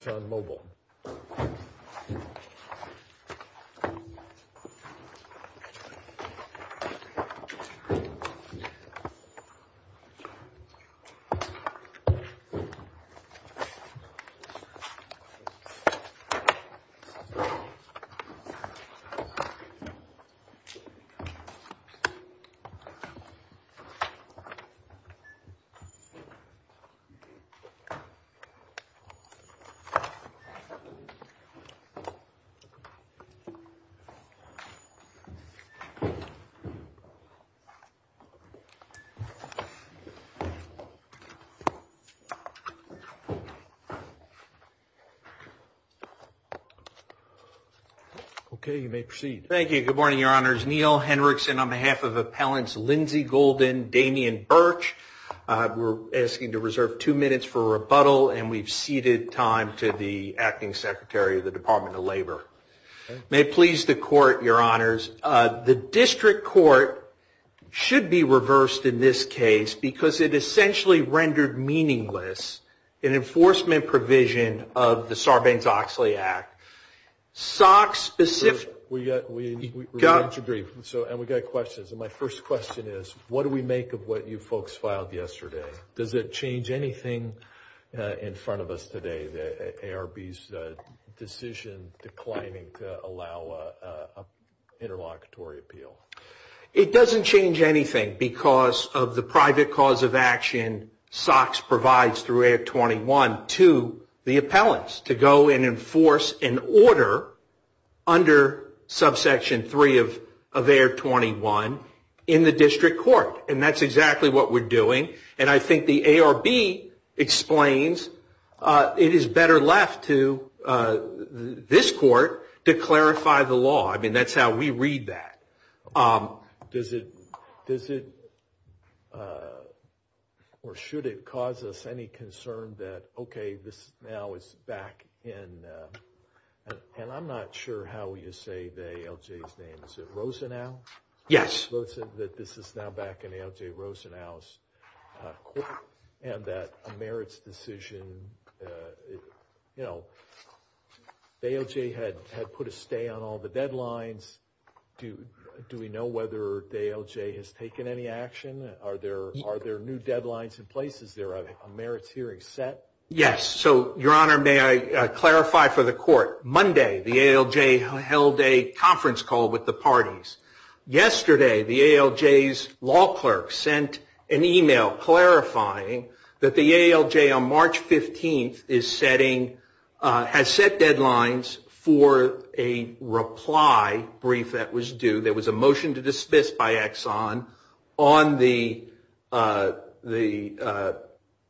Exxon Mobil Okay, you may proceed. Thank you. Good morning, Your Honors. Neal Henrickson on behalf of Appellants Lindsey Gulden, Damian Burch, we're asking to reserve two minutes for rebuttal, and we've ceded time to the Acting Secretary of the Department of Labor. May it please the Court, Your Honors, the District Court should be reversed in this case because it essentially rendered meaningless an enforcement provision of the Sarbanes-Oxley Act. Sock specific... We got to agree, and we got questions, and my first question is, what do we make of what you folks filed yesterday? Does it change anything in front of us today, the ARB's decision declining to allow an interlocutory appeal? It doesn't change anything because of the private cause of action Socks provides through ARB 21 to the appellants to go and enforce an order under Subsection 3 of ARB 21 in the District Court, and that's exactly what we're doing. And I think the ARB explains it is better left to this court to clarify the law. I mean, that's how we read that. Does it, or should it cause us any concern that, okay, this now is back in, and I'm not sure how you say the ALJ's name, is it Rosenau? Yes. So it says that this is now back in ALJ Rosenau's court, and that a merits decision, you know, the ALJ had put a stay on all the deadlines, do we know whether the ALJ has taken any action? Are there new deadlines in place? Is there a merits hearing set? Yes. So, Your Honor, may I clarify for the court, Monday, the ALJ held a conference call with the parties. Yesterday, the ALJ's law clerk sent an email clarifying that the ALJ on March 15th is setting, has set deadlines for a reply brief that was due, there was a motion to dismiss by Exxon on the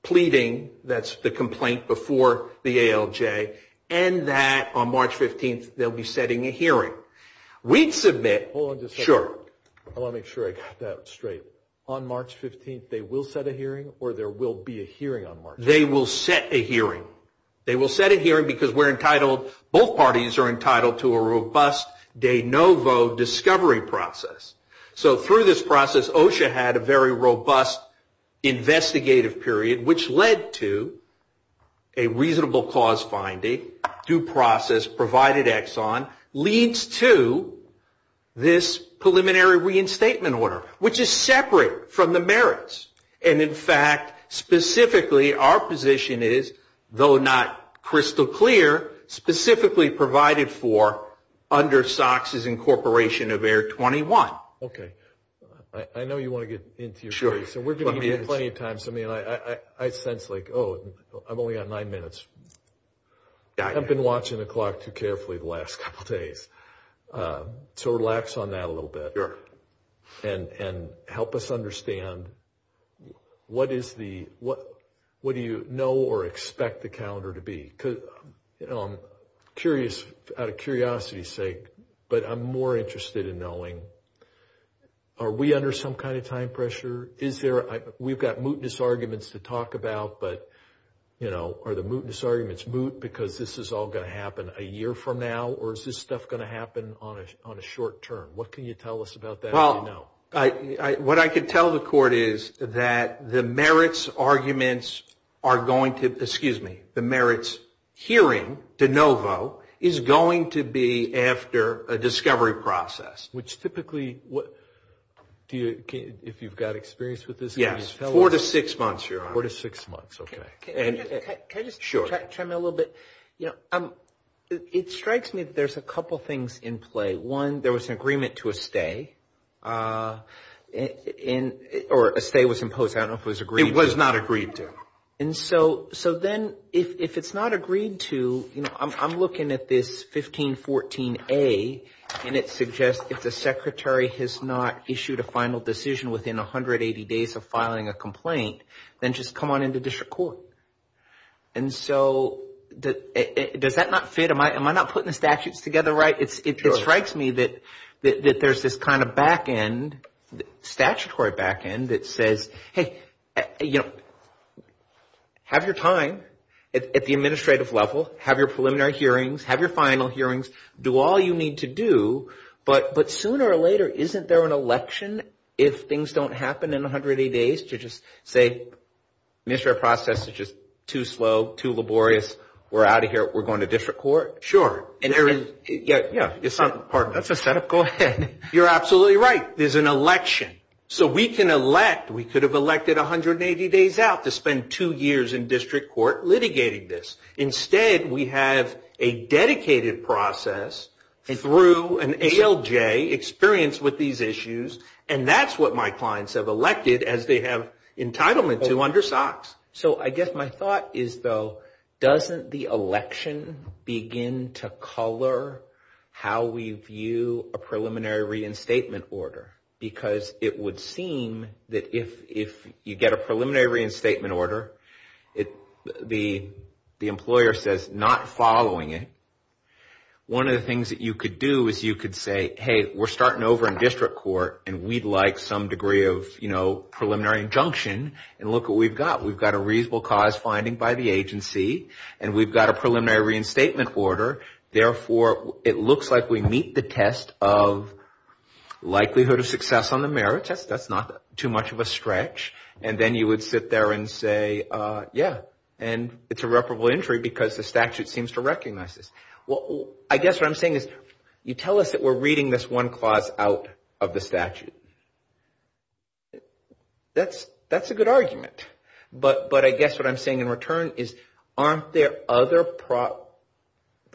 pleading, that's the complaint before the ALJ, and that on March 15th, they'll be setting a hearing. Hold on just a second. Sure. I want to make sure I got that straight. On March 15th, they will set a hearing, or there will be a hearing on March 15th? They will set a hearing. They will set a hearing because we're entitled, both parties are entitled to a robust de novo discovery process. So through this process, OSHA had a very robust investigative period, which led to a reasonable cause finding, due process provided Exxon, leads to this preliminary reinstatement order, which is separate from the merits. And in fact, specifically, our position is, though not crystal clear, specifically provided for under SOX's incorporation of Air 21. Okay. I know you want to get into it. Sure. So we're giving you plenty of time. I sense like, oh, I'm only on nine minutes. I've been watching the clock too carefully the last couple days. So relax on that a little bit. Sure. And help us understand, what do you know or expect the calendar to be? Because I'm curious, out of curiosity's sake, but I'm more interested in knowing, are we under some kind of time pressure? We've got mootness arguments to talk about, but are the mootness arguments moot because this is all going to happen a year from now? Or is this stuff going to happen on a short term? What can you tell us about that? Well, what I can tell the court is that the merits arguments are going to, excuse me, the merits hearing de novo is going to be after a discovery process. Which typically, if you've got experience with this. Yes. Four to six months. Four to six months. Okay. Can I just chime in a little bit? It strikes me that there's a couple things in play. One, there was an agreement to a stay. Or a stay was imposed. I don't know if it was agreed to. It was not agreed to. So then, if it's not agreed to, I'm looking at this 1514A and it suggests if the secretary has not issued a final decision within 180 days of filing a complaint, then just come on into district court. And so, does that not fit? Am I not putting the statutes together right? It strikes me that there's this kind of back end, statutory back end that says, hey, you know, have your time at the administrative level. Have your preliminary hearings. Have your final hearings. Do all you need to do. But sooner or later, isn't there an election if things don't happen in 180 days to just say, administrative process is just too slow, too laborious. We're out of here. We're going to district court. Sure. And there is. Yeah, yeah. That's a cynical. You're absolutely right. There's an election. So we can elect. We could have elected 180 days out to spend two years in district court litigating this. Instead, we have a dedicated process through an ALJ experience with these issues, and that's what my clients have elected as they have entitlement to under SOX. So I guess my thought is, though, doesn't the election begin to color how we view a preliminary reinstatement order? Because it would seem that if you get a preliminary reinstatement order, the employer says, not following it, one of the things that you could do is you could say, hey, we're starting over in district court, and we'd like some degree of, you know, preliminary injunction, and look what we've got. We've got a reasonable cause finding by the agency, and we've got a preliminary reinstatement order. Therefore, it looks like we meet the test of likelihood of success on the merits. That's not too much of a stretch. And then you would sit there and say, yeah, and it's irreparable injury because the statute seems to recognize this. Well, I guess what I'm saying is you tell us that we're reading this one clause out of the statute. That's a good argument. But I guess what I'm saying in return is aren't there other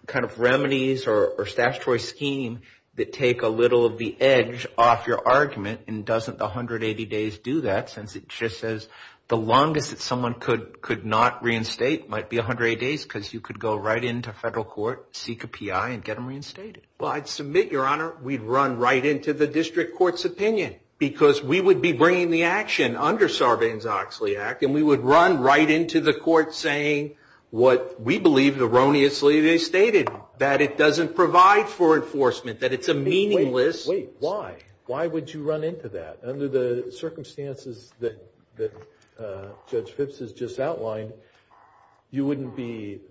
kind of remedies or statutory scheme that take a little of the edge off your argument and doesn't 180 days do that since it just says the longest that someone could not reinstate might be 180 days because you could go right into federal court, seek a PI, and get them reinstated. Well, I'd submit, Your Honor, we'd run right into the district court's opinion because we would be bringing the action under Sarbanes-Oxley Act, and we would run right into the court saying what we believe erroneously they stated, that it doesn't provide for enforcement, that it's a meaningless. Wait. Why? Why would you run into that? Under the circumstances that Judge Phipps has just outlined, you wouldn't be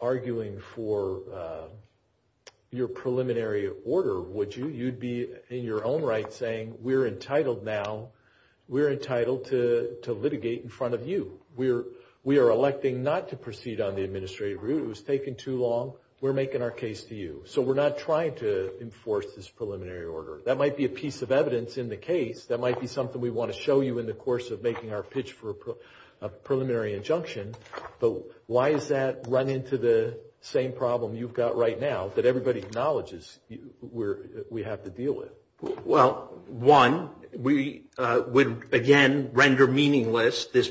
arguing for your preliminary order, would you? You'd be in your own right saying we're entitled now, we're entitled to litigate in front of you. We are electing not to proceed on the administrative rules. It's taken too long. We're making our case to you. So we're not trying to enforce this preliminary order. That might be a piece of evidence in the case. That might be something we want to show you in the course of making our pitch for a preliminary injunction. But why does that run into the same problem you've got right now that everybody acknowledges we have to deal with? Well, one, we would, again, render meaningless this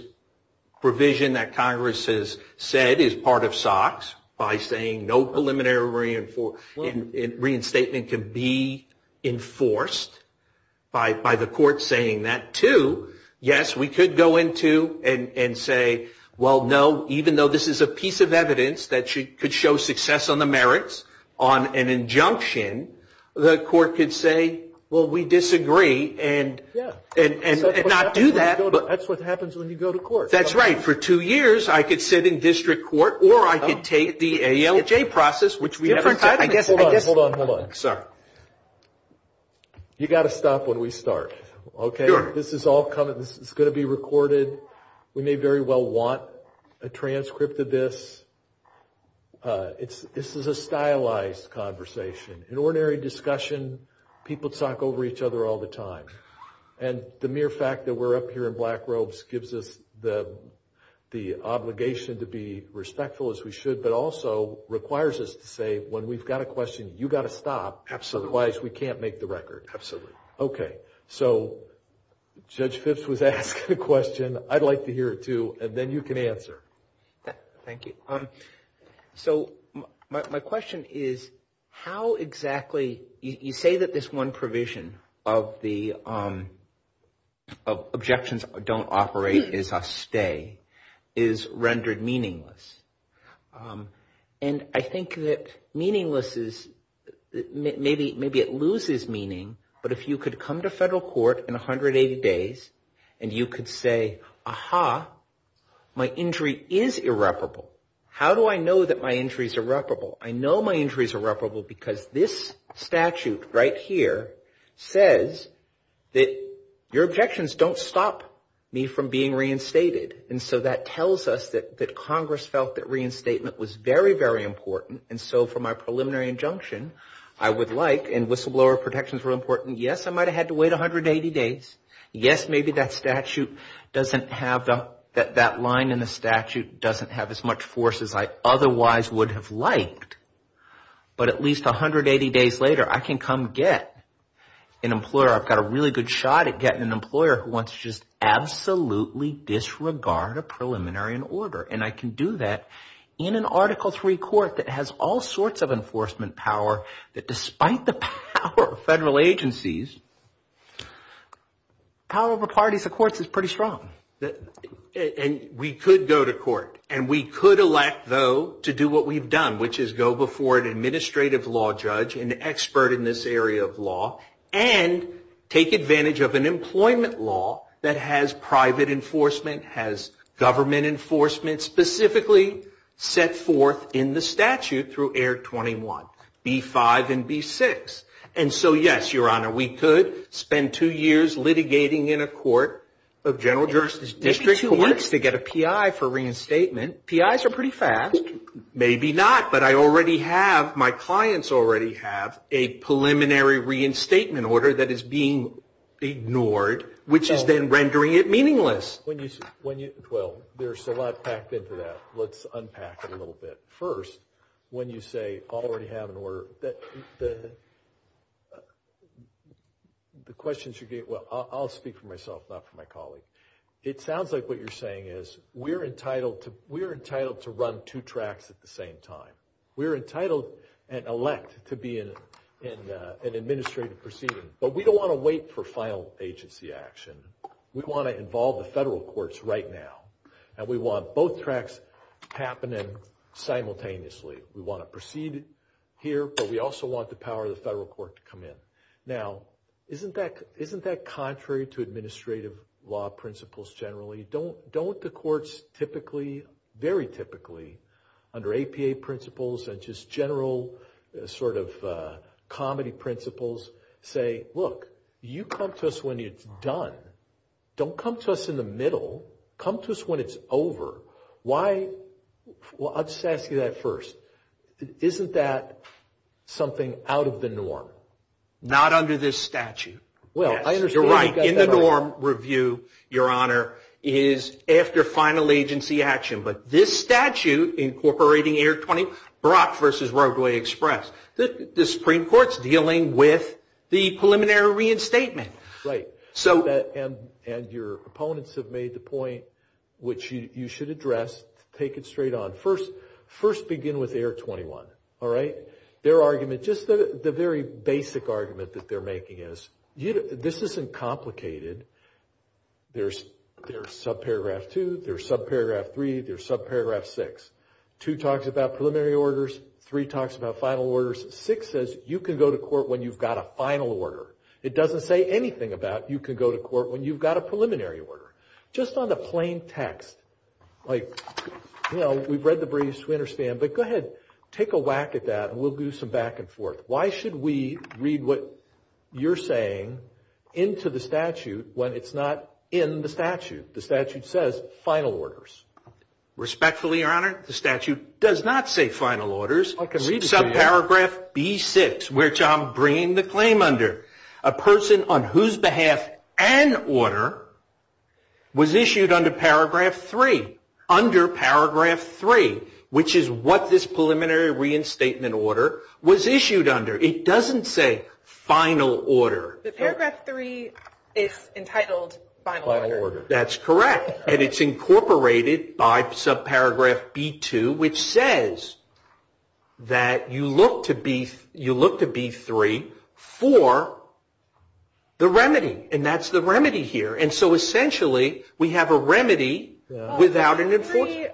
provision that Congress has said is part of SOX by saying no preliminary reinstatement can be enforced by the court saying that. Two, yes, we could go into and say, well, no, even though this is a piece of evidence that could show success on the merits on an injunction, the court could say, well, we disagree and not do that. That's what happens when you go to court. That's right. For two years I could sit in district court or I could take the ALJ process, which we haven't done. Hold on. Hold on. You've got to stop when we start. Okay. This is all going to be recorded. We may very well want a transcript of this. This is a stylized conversation. In ordinary discussion, people talk over each other all the time. And the mere fact that we're up here in black robes gives us the obligation to be respectful as we should but also requires us to say when we've got a question, you've got to stop. Absolutely. Otherwise, we can't make the record. Absolutely. Okay. So Judge Fitts was asked a question. I'd like to hear it, too, and then you can answer. Thank you. So my question is how exactly you say that this one provision of the objections don't operate is a stay is rendered meaningless. And I think that meaningless is maybe it loses meaning, but if you could come to federal court in 180 days and you could say, aha, my injury is irreparable, how do I know that my injury is irreparable? I know my injury is irreparable because this statute right here says that your objections don't stop me from being reinstated. And so that tells us that Congress felt that reinstatement was very, very important. And so for my preliminary injunction, I would like – and whistleblower protections were important. Yes, I might have had to wait 180 days. Yes, maybe that statute doesn't have – that line in the statute doesn't have as much force as I otherwise would have liked. But at least 180 days later, I can come get an employer. I've got a really good shot at getting an employer who wants to just absolutely disregard a preliminary in order. And I can do that in an Article III court that has all sorts of enforcement power that despite the power of federal agencies, power over parties, of course, is pretty strong. And we could go to court. And we could elect, though, to do what we've done, which is go before an administrative law judge, an expert in this area of law, and take advantage of an employment law that has private enforcement, has government enforcement, specifically set forth in the statute through ART 21, B-5 and B-6. And so, yes, Your Honor, we could spend two years litigating in a court of general jurisdiction to get a PI for reinstatement. PIs are pretty fast. Maybe not, but I already have – my clients already have a preliminary reinstatement order that is being ignored, which has been rendering it meaningless. Well, there's a lot packed into that. Let's unpack it a little bit. First, when you say I already have an order, the questions you're getting – well, I'll speak for myself, not for my colleagues. It sounds like what you're saying is we're entitled to run two tracts at the same time. We're entitled and elect to be in an administrative proceeding. But we don't want to wait for final agency action. We want to involve the federal courts right now, and we want both tracts happening simultaneously. We want to proceed here, but we also want the power of the federal court to come in. Now, isn't that contrary to administrative law principles generally? Don't the courts typically, very typically, under APA principles and just general sort of comedy principles, say, look, you come to us when it's done. Don't come to us in the middle. Come to us when it's over. Why – well, I'll just ask you that first. Isn't that something out of the norm? Not under this statute. You're right. In the norm review, Your Honor, is after final agency action. But this statute incorporating ART 20 Brock v. Roadway Express, the Supreme Court's dealing with the preliminary reinstatement. Right. And your opponents have made the point, which you should address. Take it straight on. First, begin with ART 21, all right? Their argument, just the very basic argument that they're making is this isn't complicated. There's subparagraph 2. There's subparagraph 3. There's subparagraph 6. 2 talks about preliminary orders. 3 talks about final orders. 6 says you can go to court when you've got a final order. It doesn't say anything about you can go to court when you've got a preliminary order. Just on the plain text, like, you know, we've read the briefs. We understand. But go ahead, take a whack at that, and we'll do some back and forth. Why should we read what you're saying into the statute when it's not in the statute? The statute says final orders. Respectfully, Your Honor, the statute does not say final orders. Subparagraph B6, which I'm bringing the claim under, a person on whose behalf an order was issued under paragraph 3, which is what this preliminary reinstatement order was issued under. It doesn't say final order. The paragraph 3 is entitled final order. That's correct. And it's incorporated by subparagraph B2, which says that you look to B3 for the remedy. And that's the remedy here. And so, essentially, we have a remedy without an enforcement.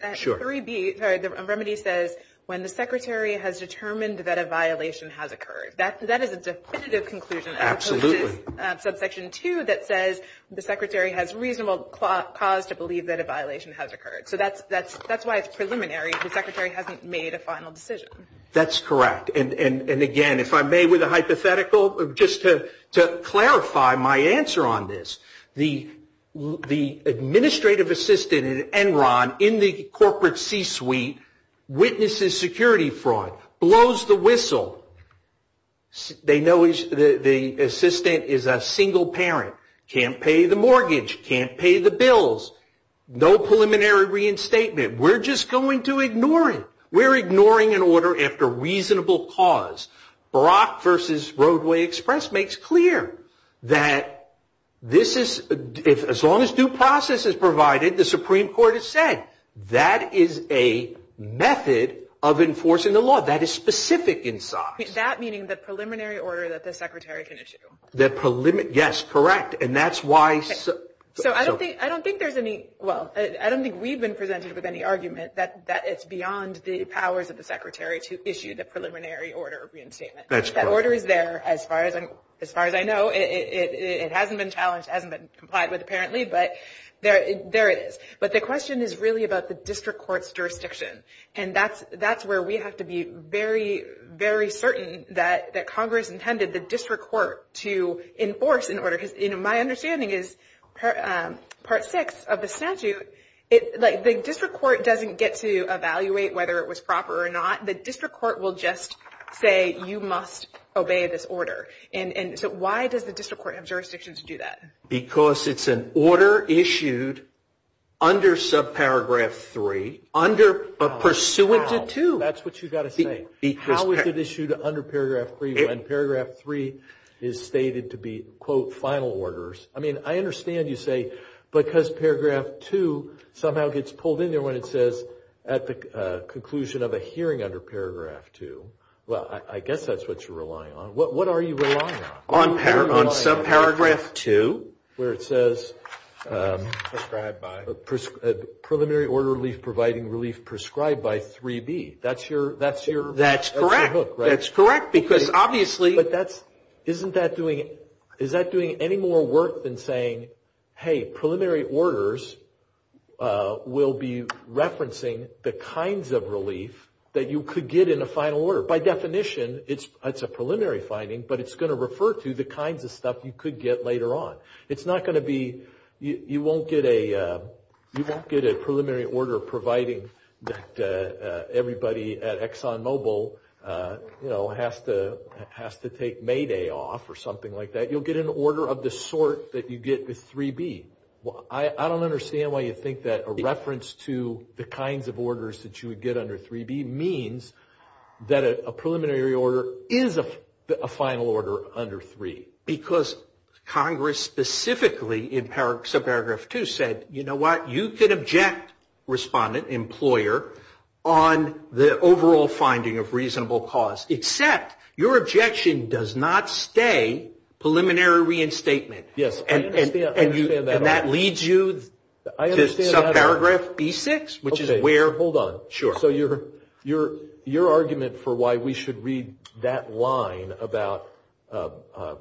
The remedy says when the secretary has determined that a violation has occurred. That is a definitive conclusion. Absolutely. Subsection 2 that says the secretary has reasonable cause to believe that a violation has occurred. So that's why it's preliminary. The secretary hasn't made a final decision. That's correct. And, again, if I may, with a hypothetical, just to clarify my answer on this. The administrative assistant at Enron in the corporate C-suite witnesses security fraud, blows the whistle. They know the assistant is a single parent. Can't pay the mortgage. Can't pay the bills. No preliminary reinstatement. We're just going to ignore it. We're ignoring an order after reasonable cause. Brock versus Roadway Express makes clear that this is, as long as due process is provided, the Supreme Court has said, that is a method of enforcing the law. That is specific in size. That meaning the preliminary order that the secretary can issue. Yes, correct. And that's why. So I don't think there's any, well, I don't think we've been presented with any argument that it's beyond the powers of the secretary to issue the preliminary order of reinstatement. That order is there as far as I know. It hasn't been challenged, hasn't been complied with apparently, but there it is. But the question is really about the district court's jurisdiction. And that's where we have to be very, very certain that Congress intended the district court to enforce an order. Because my understanding is part six of the statute, the district court doesn't get to evaluate whether it was proper or not. The district court will just say you must obey this order. And so why does the district court have jurisdiction to do that? Because it's an order issued under subparagraph three, pursuant to two. That's what you've got to say. How is it issued under paragraph three when paragraph three is stated to be, quote, final orders? I mean, I understand you say because paragraph two somehow gets pulled in there when it says at the conclusion of a hearing under paragraph two. Well, I guess that's what you're relying on. What are you relying on? On subparagraph two. Where it says preliminary order relief providing relief prescribed by 3B. That's your hook, right? That's correct. That's correct. Because obviously. Isn't that doing any more work than saying, hey, preliminary orders will be referencing the kinds of relief that you could get in a final order. By definition, it's a preliminary finding, but it's going to refer to the kinds of stuff you could get later on. It's not going to be. You won't get a preliminary order providing that everybody at ExxonMobil has to take May Day off or something like that. You'll get an order of the sort that you get with 3B. I don't understand why you think that a reference to the kinds of orders that you would get under 3B means that a preliminary order is a final order under three. Because Congress specifically in subparagraph two said, you know what? You could object, respondent, employer, on the overall finding of reasonable cause, except your objection does not stay preliminary reinstatement. And that leads you to subparagraph B6, which is where. Hold on. Sure. So your argument for why we should read that line about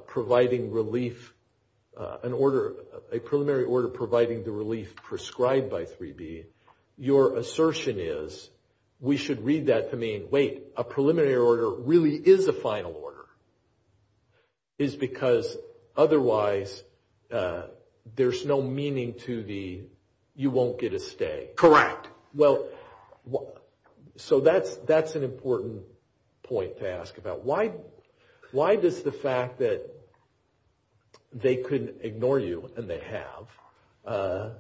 providing relief, a preliminary order providing the relief prescribed by 3B, your assertion is we should read that to mean, wait, a preliminary order really is a final order. It's because otherwise there's no meaning to the you won't get a stay. Correct. Well, so that's an important point to ask about. Why does the fact that they couldn't ignore you and they have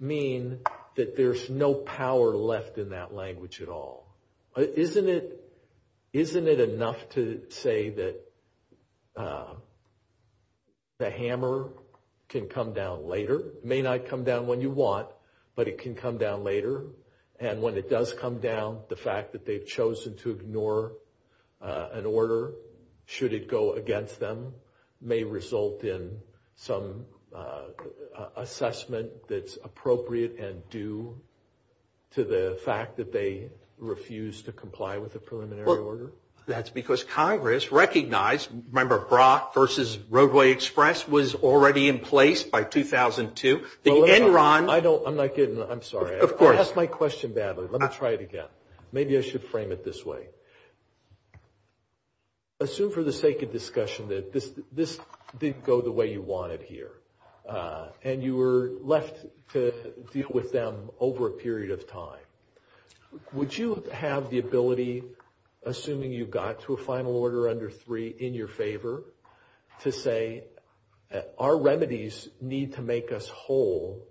mean that there's no power left in that language at all? Isn't it enough to say that the hammer can come down later? It may not come down when you want, but it can come down later. And when it does come down, the fact that they've chosen to ignore an order, should it go against them, may result in some assessment that's appropriate and due to the fact that they refuse to comply with the preliminary order? Well, that's because Congress recognized, remember Brock versus Roadway Express was already in place by 2002. I'm sorry. Of course. I asked my question badly. Let me try it again. Maybe I should frame it this way. Assume for the sake of discussion that this didn't go the way you wanted here and you were left to deal with them over a period of time. Would you have the ability, assuming you got to a final order under three, in your favor, to say our remedies need to make us whole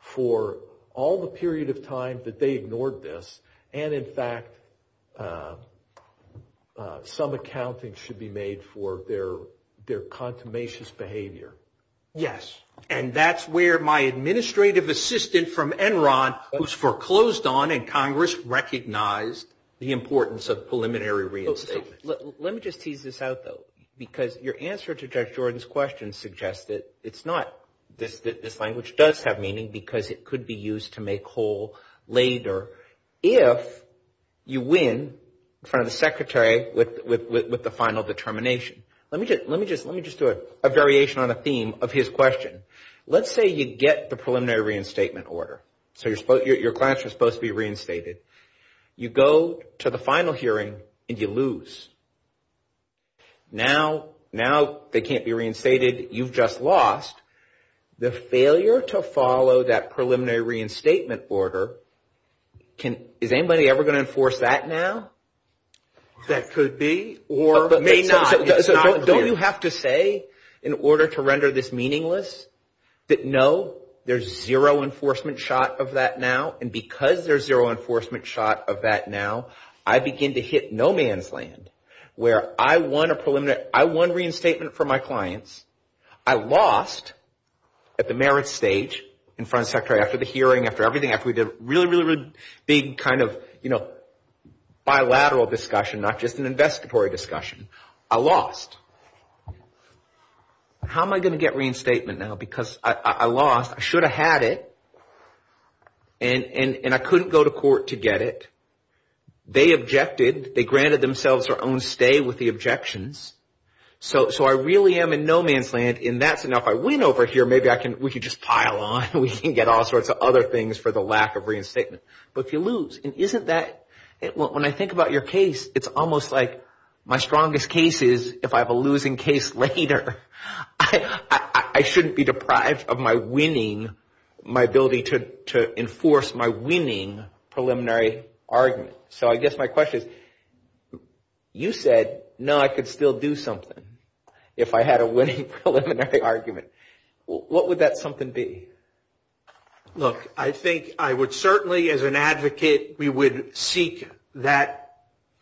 for all the period of time that they ignored this and, in fact, some accounting should be made for their consummations behavior? Yes. And that's where my administrative assistant from Enron, who's foreclosed on and Congress recognized the importance of preliminary reinstatement. Let me just tease this out, though, because your answer to Judge Jordan's question suggests that it's not. This language does have meaning because it could be used to make whole later if you win in front of the secretary with the final determination. Let me just do a variation on a theme of his question. Let's say you get the preliminary reinstatement order. So your class was supposed to be reinstated. You go to the final hearing and you lose. Now they can't be reinstated. You've just lost. The failure to follow that preliminary reinstatement order, is anybody ever going to enforce that now? That could be or may not. Don't you have to say in order to render this meaningless that, no, there's zero enforcement shot of that now? And because there's zero enforcement shot of that now, I begin to hit no man's land, where I won a preliminary. I won reinstatement for my clients. I lost at the merit stage in front of the secretary after the hearing, after everything, after we did a really, really, really big kind of bilateral discussion, not just an investigatory discussion. I lost. How am I going to get reinstatement now? Because I lost. I should have had it. And I couldn't go to court to get it. They objected. They granted themselves their own stay with the objections. So I really am in no man's land. If I win over here, maybe we can just pile on. We can get all sorts of other things for the lack of reinstatement. But you lose. And isn't that – when I think about your case, it's almost like my strongest case is if I have a losing case later. I shouldn't be deprived of my winning – my ability to enforce my winning preliminary argument. So I guess my question – you said, no, I could still do something if I had a winning preliminary argument. What would that something be? Look, I think I would certainly, as an advocate, we would seek that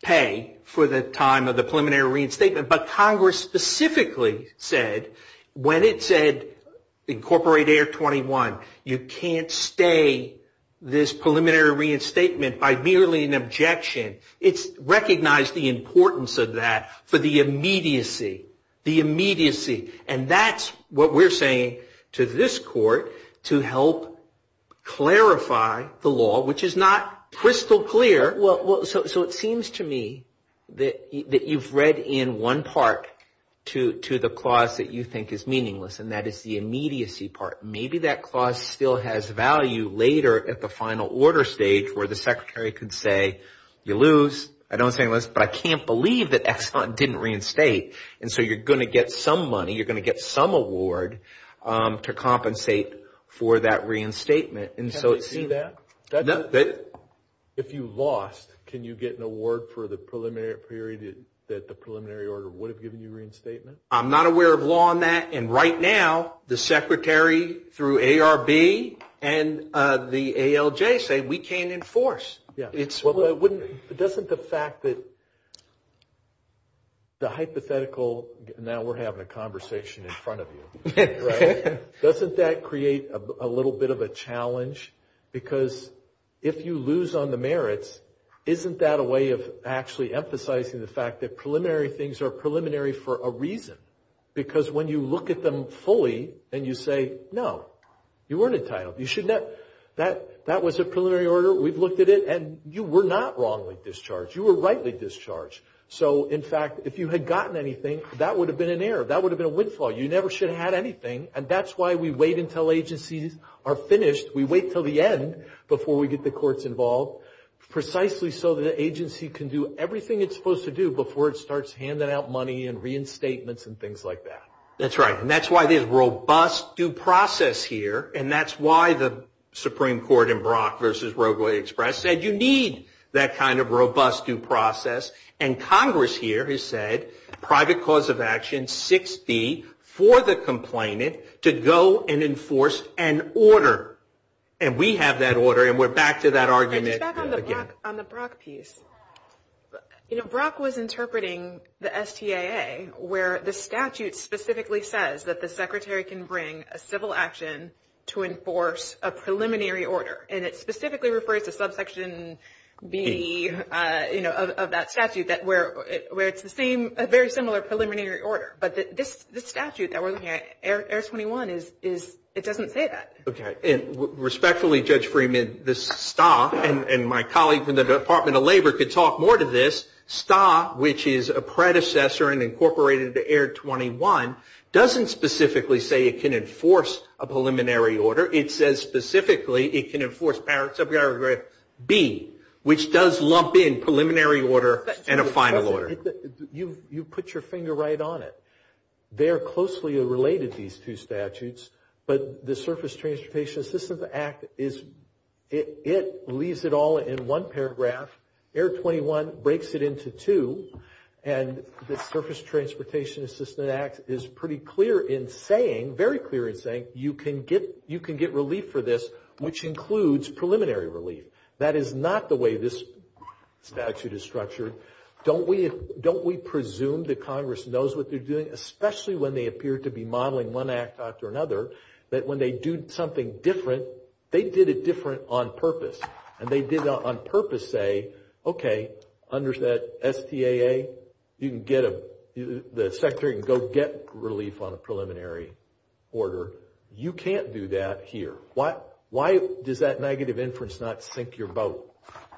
pay for the time of the preliminary reinstatement. But Congress specifically said, when it said incorporate Air 21, you can't stay this preliminary reinstatement by merely an objection. It's recognized the importance of that for the immediacy. The immediacy. And that's what we're saying to this court to help clarify the law, which is not crystal clear. So it seems to me that you've read in one part to the clause that you think is meaningless. And that is the immediacy part. Maybe that clause still has value later at the final order stage where the secretary can say, you lose. I don't think – but I can't believe that Ex-Cont didn't reinstate. And so you're going to get some money. You're going to get some award to compensate for that reinstatement. If you lost, can you get an award for the preliminary period that the preliminary order would have given you reinstatement? I'm not aware of law on that. And right now, the secretary through ARB and the ALJ say we can't enforce. Doesn't the fact that the hypothetical – now we're having a conversation in front of you. Doesn't that create a little bit of a challenge? Because if you lose on the merits, isn't that a way of actually emphasizing the fact that preliminary things are preliminary for a reason? Because when you look at them fully and you say, no, you weren't entitled. That was a preliminary order. We've looked at it. And you were not wrongly discharged. You were rightly discharged. So, in fact, if you had gotten anything, that would have been an error. That would have been a windfall. You never should have had anything. And that's why we wait until agencies are finished. We wait until the end before we get the courts involved. Precisely so the agency can do everything it's supposed to do before it starts handing out money and reinstatements and things like that. That's right. And that's why there's robust due process here. And that's why the Supreme Court in Brock v. Roe v. Wade said you need that kind of robust due process. And Congress here has said private cause of action, 6D, for the complainant to go and enforce an order. And we have that order, and we're back to that argument again. And back on the Brock piece. You know, Brock was interpreting the STAA where the statute specifically says that the secretary can bring a civil action to enforce a preliminary order. And it specifically refers to subsection B of that statute where it's a very similar preliminary order. But this statute that we're looking at, Air 21, it doesn't say that. Okay. And respectfully, Judge Freeman, this STAA, and my colleagues in the Department of Labor could talk more to this, STAA, which is a predecessor and incorporated into Air 21, doesn't specifically say it can enforce a preliminary order. However, it says specifically it can enforce paragraph B, which does lump in preliminary order and a final order. You put your finger right on it. They are closely related, these two statutes. But the Surface Transportation Assistance Act, it leaves it all in one paragraph. Air 21 breaks it into two. And the Surface Transportation Assistance Act is pretty clear in saying, very clear in saying, you can get relief for this, which includes preliminary relief. That is not the way this statute is structured. Don't we presume that Congress knows what they're doing, especially when they appear to be modeling one act after another, that when they do something different, they did it different on purpose. And they did it on purpose to say, okay, under that STAA, the Secretary can go get relief on a preliminary order. You can't do that here. Why does that negative inference not sink your boat?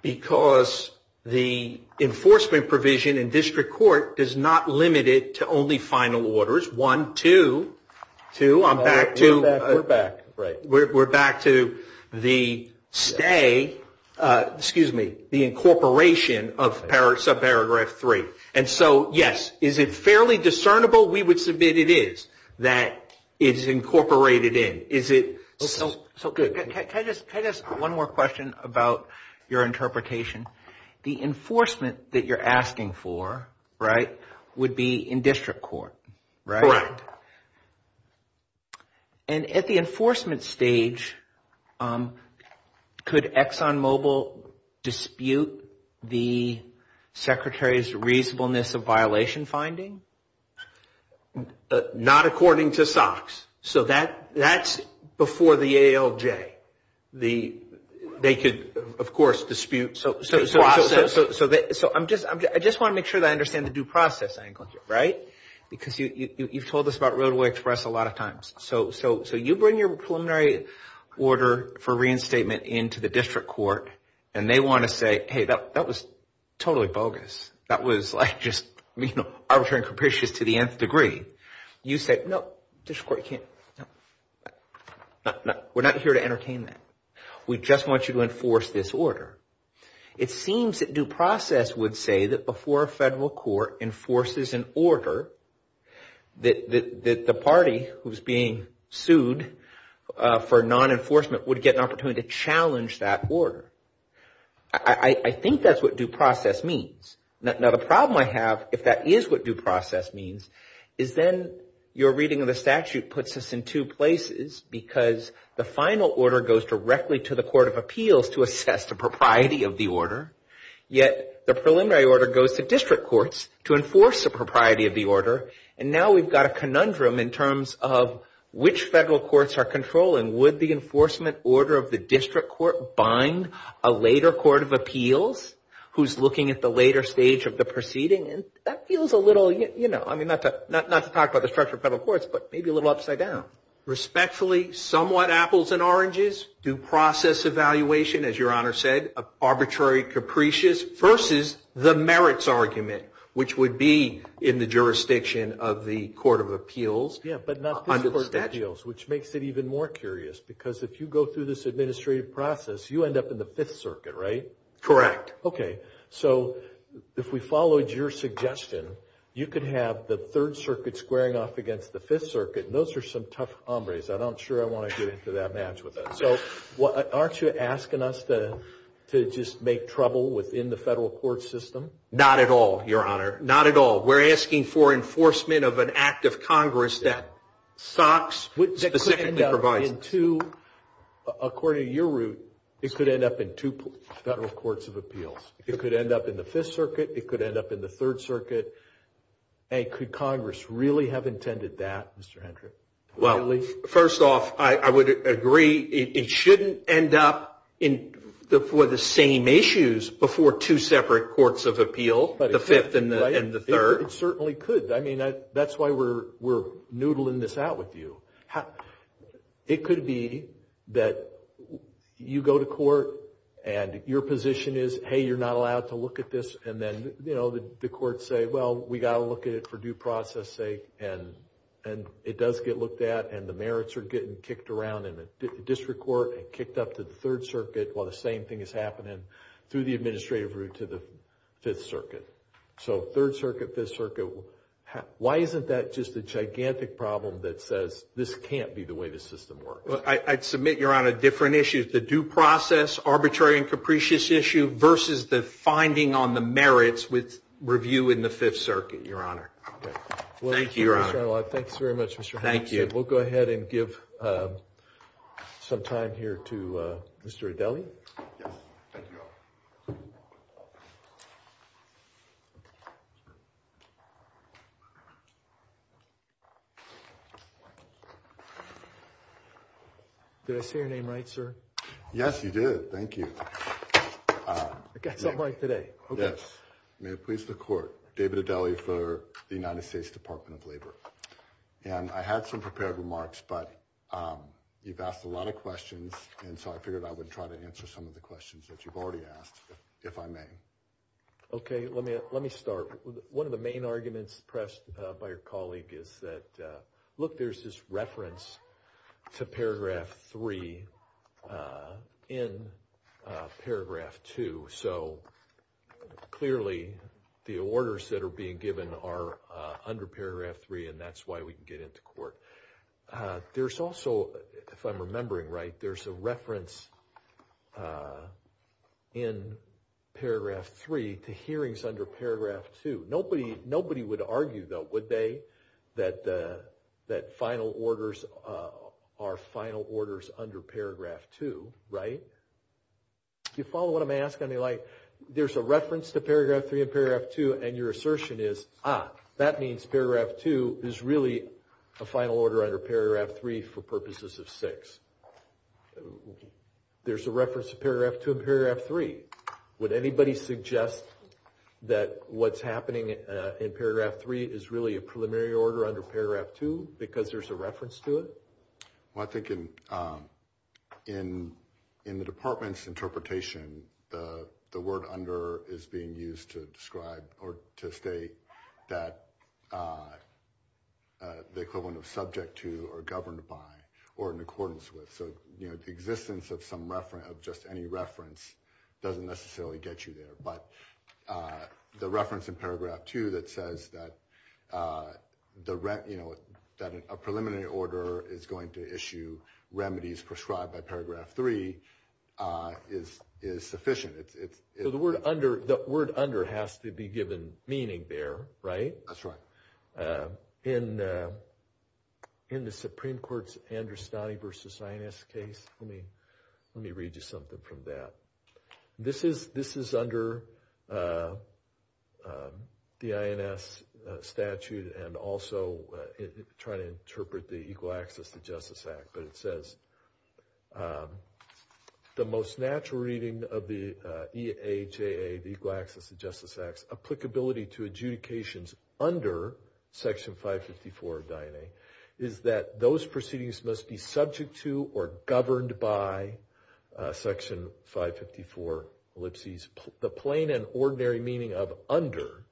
Because the enforcement provision in district court is not limited to only final orders, one, two. Two, I'm back to the STAA, excuse me, the incorporation of subparagraph three. And so, yes, is it fairly discernible? We would submit it is, that it is incorporated in. Can I ask one more question about your interpretation? The enforcement that you're asking for, right, would be in district court, right? And at the enforcement stage, could Exxon Mobil dispute the Secretary's reasonableness of violation finding? Not according to SOX. So that's before the ALJ. They could, of course, dispute. So I just want to make sure that I understand the due process angle here, right? Because you've told us about Roadway Express a lot of times. So you bring your preliminary order for reinstatement into the district court, and they want to say, hey, that was totally bogus. That was, like, just, you know, arbitrary and capricious to the nth degree. You say, no, district court can't, no, no, no, we're not here to entertain that. We just want you to enforce this order. It seems that due process would say that before a federal court enforces an order, that the party who's being sued for non-enforcement would get an opportunity to challenge that order. I think that's what due process means. Now, the problem I have, if that is what due process means, is then your reading of the statute puts us in two places, because the final order goes directly to the court of appeals to assess the propriety of the order, yet the preliminary order goes to district courts to enforce the propriety of the order. And now we've got a conundrum in terms of which federal courts are controlling. Would the enforcement order of the district court bind a later court of appeals, who's looking at the later stage of the proceeding? And that feels a little, you know, I mean, not to talk about the structure of federal courts, but maybe a little upside down. Respectfully, somewhat apples and oranges, due process evaluation, as Your Honor said, arbitrary capricious versus the merits argument, which would be in the jurisdiction of the court of appeals. Yeah, but not the court of appeals, which makes it even more curious, because if you go through this administrative process, you end up in the Fifth Circuit, right? Correct. Okay. So if we followed your suggestion, you could have the Third Circuit squaring off against the Fifth Circuit, and those are some tough hombres. I'm not sure I want to get into that match with that. So aren't you asking us to just make trouble within the federal court system? Not at all, Your Honor. Not at all. We're asking for enforcement of an act of Congress that socks the second deprivation. According to your route, it could end up in two federal courts of appeals. It could end up in the Fifth Circuit. It could end up in the Third Circuit. And could Congress really have intended that, Mr. Hendrick? Well, first off, I would agree it shouldn't end up for the same issues before two separate courts of appeals, the Fifth and the Third. It certainly could. I mean, that's why we're noodling this out with you. It could be that you go to court and your position is, hey, you're not allowed to look at this, and then the courts say, well, we've got to look at it for due process sake, and it does get looked at, and the merits are getting kicked around in the district court and kicked up to the Third Circuit while the same thing is happening through the administrative route to the Fifth Circuit. So Third Circuit, Fifth Circuit, why isn't that just a gigantic problem that says this can't be the way the system works? Well, I'd submit, Your Honor, different issues. It's a due process, arbitrary and capricious issue versus the finding on the merits with review in the Fifth Circuit, Your Honor. Thank you, Your Honor. Well, thank you very much, Mr. Hendrick. We'll go ahead and give some time here to Mr. Adele. Thank you, Your Honor. Did I say your name right, sir? Yes, you did. Thank you. I got that mic today. Yes. May it please the Court. David Adele for the United States Department of Labor. And I had some prepared remarks, but you've asked a lot of questions, and so I figured I would try to answer some of the questions that you've already asked, if I may. Okay. Let me start. One of the main arguments pressed by your colleague is that, look, there's this reference to paragraph 3 in paragraph 2. So clearly the orders that are being given are under paragraph 3, and that's why we can get into court. There's also, if I'm remembering right, there's a reference in paragraph 3 to hearings under paragraph 2. Nobody would argue, though, would they, that final orders are final orders under paragraph 2, right? Do you follow what I'm asking? I mean, like, there's a reference to paragraph 3 in paragraph 2, and your assertion is, ah, that means paragraph 2 is really a final order under paragraph 3 for purposes of 6. There's a reference to paragraph 2 in paragraph 3. Would anybody suggest that what's happening in paragraph 3 is really a preliminary order under paragraph 2 because there's a reference to it? Well, I think in the department's interpretation, the word under is being used to describe or to state that the equivalent of subject to or governed by or in accordance with. So, you know, the existence of just any reference doesn't necessarily get you there. But the reference in paragraph 2 that says that a preliminary order is going to issue remedies prescribed by paragraph 3 is sufficient. So the word under has to be given meaning there, right? That's right. In the Supreme Court's Androstaty v. INS case, let me read you something from that. This is under the INS statute and also trying to interpret the Equal Access to Justice Act. The most natural reading of the EHAA, the Equal Access to Justice Act, applicability to adjudications under section 554 of DIN-A, is that those proceedings must be subject to or governed by section 554 ellipses. The plain and ordinary meaning of under,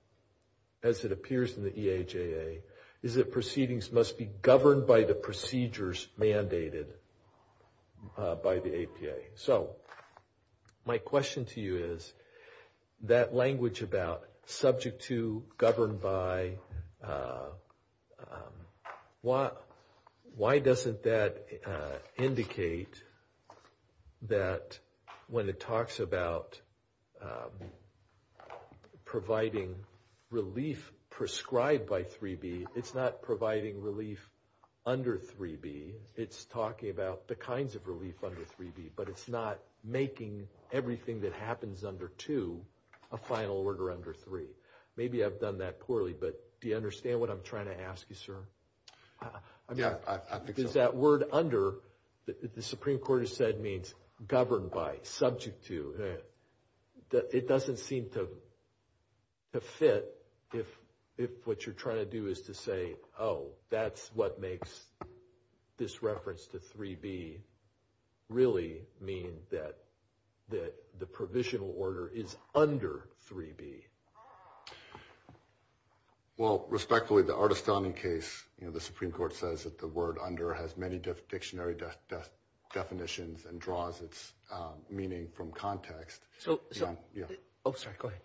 as it appears in the EHAA, is that proceedings must be governed by the procedures mandated by the APA. So my question to you is that language about subject to, governed by, why doesn't that indicate that when it talks about providing relief prescribed by 3B, it's not providing relief under 3B. It's talking about the kinds of relief under 3B, but it's not making everything that happens under 2 a final order under 3. Maybe I've done that poorly, but do you understand what I'm trying to ask you, sir? Does that word under that the Supreme Court has said means governed by, subject to, it doesn't seem to fit if what you're trying to do is to say, oh, that's what makes this reference to 3B really mean that the provisional order is under 3B? Well, respectfully, the Ardestani case, the Supreme Court says that the word under has many different dictionary definitions and draws its meaning from context. Oh, sorry, go ahead.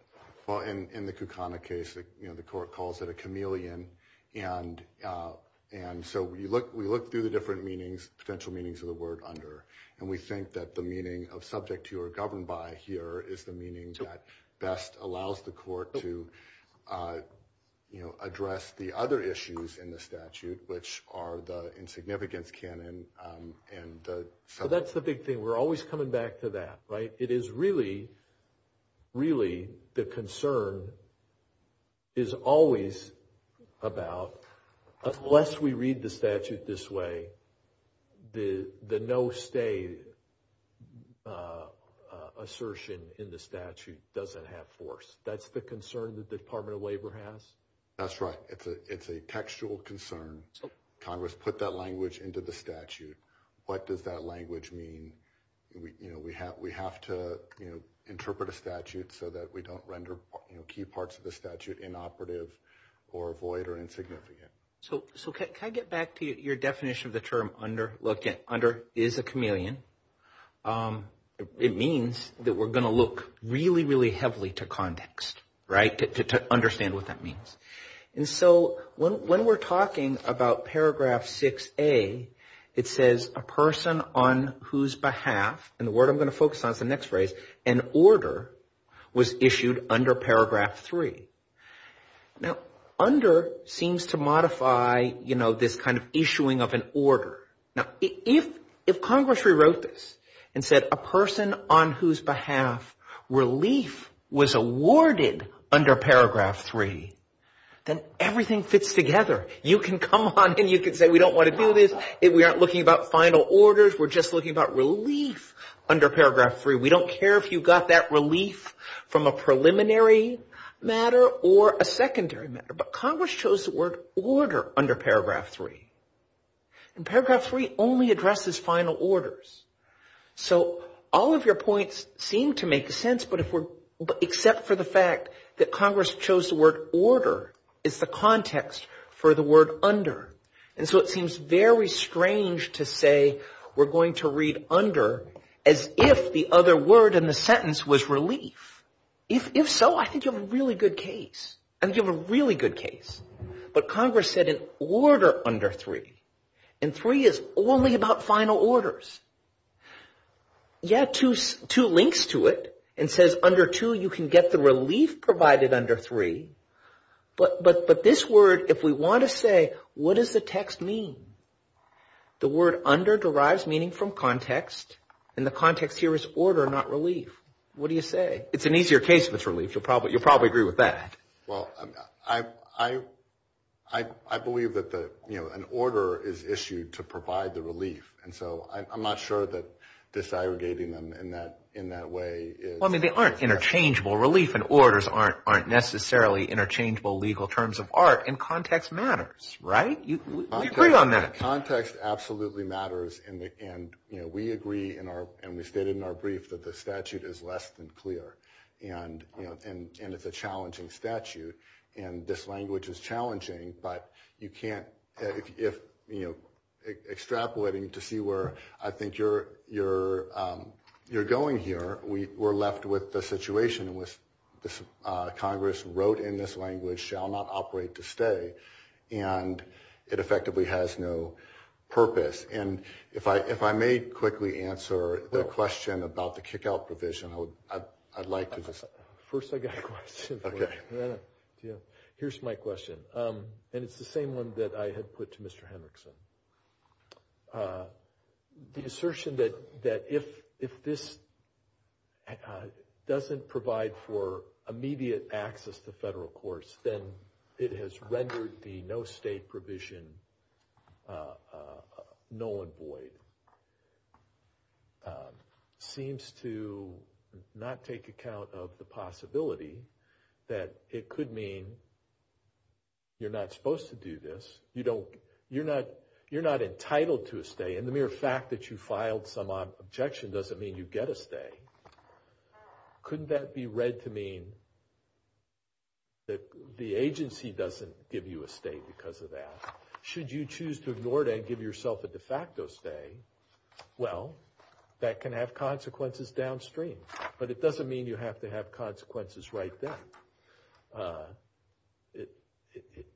Well, in the Kucana case, the court calls it a chameleon, and so we look through the different meanings, potential meanings of the word under, and we think that the meaning of subject to or governed by here is the meaning that best allows the court to address the other issues in the statute, which are the insignificance canon. So that's the big thing. We're always coming back to that, right? It is really, really the concern is always about, unless we read the statute this way, the no-stay assertion in the statute doesn't have force. That's the concern that the Department of Labor has? That's right. It's a textual concern. Congress put that language into the statute. What does that language mean? We have to interpret a statute so that we don't render key parts of the statute inoperative or void or insignificant. So can I get back to your definition of the term under? Look, under is a chameleon. It means that we're going to look really, really heavily to context to understand what that means. And so when we're talking about paragraph 6A, it says a person on whose behalf – and the word I'm going to focus on is the next phrase – an order was issued under paragraph 3. Now, under seems to modify this kind of issuing of an order. Now, if Congress rewrote this and said a person on whose behalf relief was awarded under paragraph 3, then everything fits together. You can come on and you can say we don't want to do this. We aren't looking about final orders. We're just looking about relief under paragraph 3. We don't care if you got that relief from a preliminary matter or a secondary matter. But Congress chose the word order under paragraph 3. And paragraph 3 only addresses final orders. So all of your points seem to make sense except for the fact that Congress chose the word order as the context for the word under. And so it seems very strange to say we're going to read under as if the other word in the sentence was relief. If so, I think you have a really good case. I think you have a really good case. But Congress said an order under 3, and 3 is only about final orders. Yeah, two links to it. It says under 2 you can get the relief provided under 3. But this word, if we want to say what does the text mean, the word under derives meaning from context, and the context here is order, not relief. What do you say? It's an easier case, Mr. Leach. You'll probably agree with that. Well, I believe that an order is issued to provide the relief. And so I'm not sure that disaggregating them in that way is— Well, I mean, they aren't interchangeable. Relief and orders aren't necessarily interchangeable legal terms of art. And context matters, right? You agreed on that. Context absolutely matters. And we agree, and we stated in our brief, that the statute is less than clear. And it's a challenging statute. And this language is challenging. But you can't—extrapolating to see where I think you're going here, we're left with the situation. Congress wrote in this language, shall not operate to stay. And it effectively has no purpose. And if I may quickly answer the question about the kick-out provision, I'd like to— First, I've got a question. Okay. Here's my question. And it's the same one that I had put to Mr. Hendrickson. The assertion that if this doesn't provide for immediate access to federal courts, then it has rendered the no state provision null and void. Seems to not take account of the possibility that it could mean you're not supposed to do this. You don't—you're not entitled to a stay. And the mere fact that you filed some objection doesn't mean you get a stay. Couldn't that be read to mean that the agency doesn't give you a stay because of that? Should you choose to ignore that and give yourself a de facto stay? Well, that can have consequences downstream. But it doesn't mean you have to have consequences right then.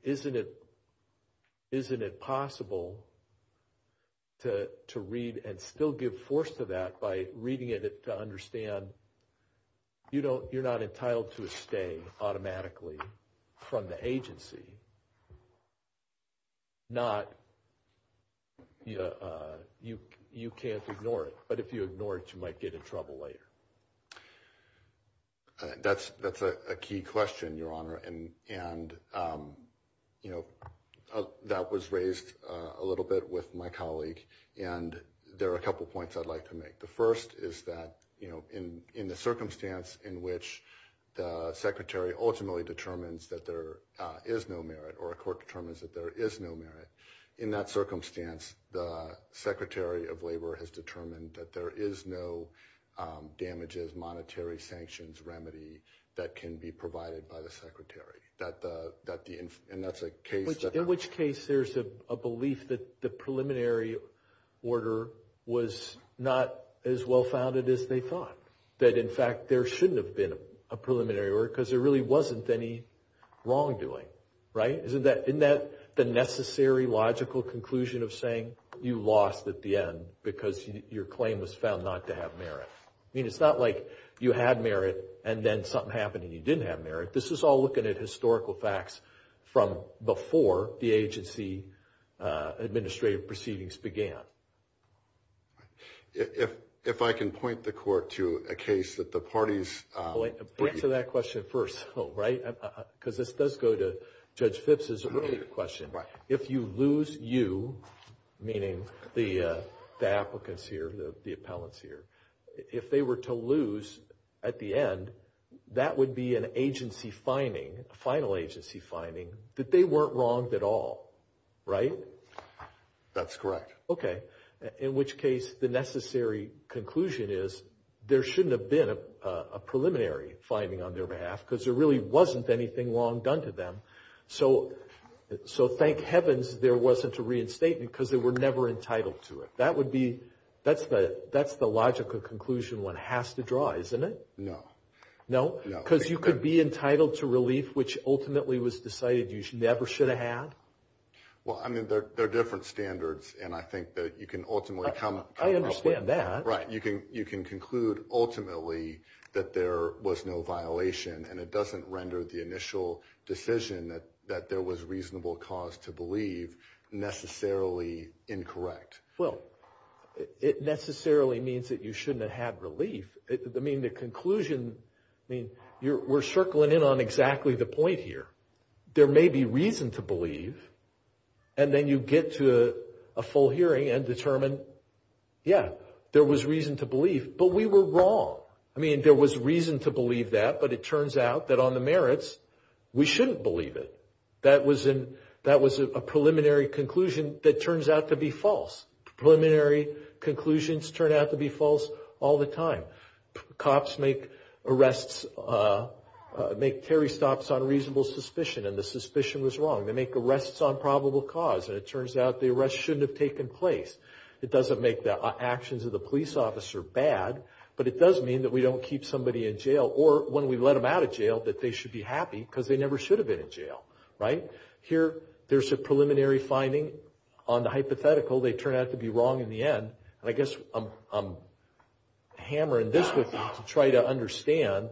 Isn't it—isn't it possible to read and still give force to that by reading it to understand you're not entitled to a stay automatically from the agency? Not—you can't ignore it. But if you ignore it, you might get in trouble later. That's a key question, Your Honor. And, you know, that was raised a little bit with my colleague. And there are a couple points I'd like to make. The first is that, you know, in the circumstance in which the secretary ultimately determines that there is no merit or a court determines that there is no merit, in that circumstance, the secretary of labor has determined that there is no damages, monetary sanctions remedy that can be provided by the secretary. And that's a case— In which case there's a belief that the preliminary order was not as well-founded as they thought. That, in fact, there shouldn't have been a preliminary order because there really wasn't any wrongdoing. Right? Isn't that—isn't that the necessary logical conclusion of saying you lost at the end because your claim was found not to have merit? I mean, it's not like you had merit and then something happened and you didn't have merit. This is all looking at historical facts from before the agency administrative proceedings began. If I can point the court to a case that the parties— Wait. Bring to that question first, right? Because this does go to Judge Phipps' earlier question. Right. Meaning the applicants here, the appellants here. If they were to lose at the end, that would be an agency finding, a final agency finding, that they weren't wronged at all. Right? That's correct. Okay. In which case the necessary conclusion is there shouldn't have been a preliminary finding on their behalf because there really wasn't anything wrong done to them. So thank heavens there wasn't a reinstatement because they were never entitled to it. That would be—that's the logical conclusion one has to draw, isn't it? No. No? Because you could be entitled to relief, which ultimately was decided you never should have had? Well, I mean, there are different standards, and I think that you can ultimately— I understand that. Right. You can conclude ultimately that there was no violation, and it doesn't render the initial decision that there was reasonable cause to believe necessarily incorrect. Well, it necessarily means that you shouldn't have had relief. I mean, the conclusion—we're circling in on exactly the point here. There may be reason to believe, and then you get to a full hearing and determine, yeah, there was reason to believe, but we were wrong. I mean, there was reason to believe that, but it turns out that on the merits we shouldn't believe it. That was a preliminary conclusion that turns out to be false. Preliminary conclusions turn out to be false all the time. Cops make arrests—make carry stops on reasonable suspicion, and the suspicion was wrong. They make arrests on probable cause, and it turns out the arrest shouldn't have taken place. It doesn't make the actions of the police officer bad, but it does mean that we don't keep somebody in jail, or when we let them out of jail, that they should be happy because they never should have been in jail. Right? Here, there's a preliminary finding on the hypothetical. They turn out to be wrong in the end, and I guess I'm hammering this with you to try to understand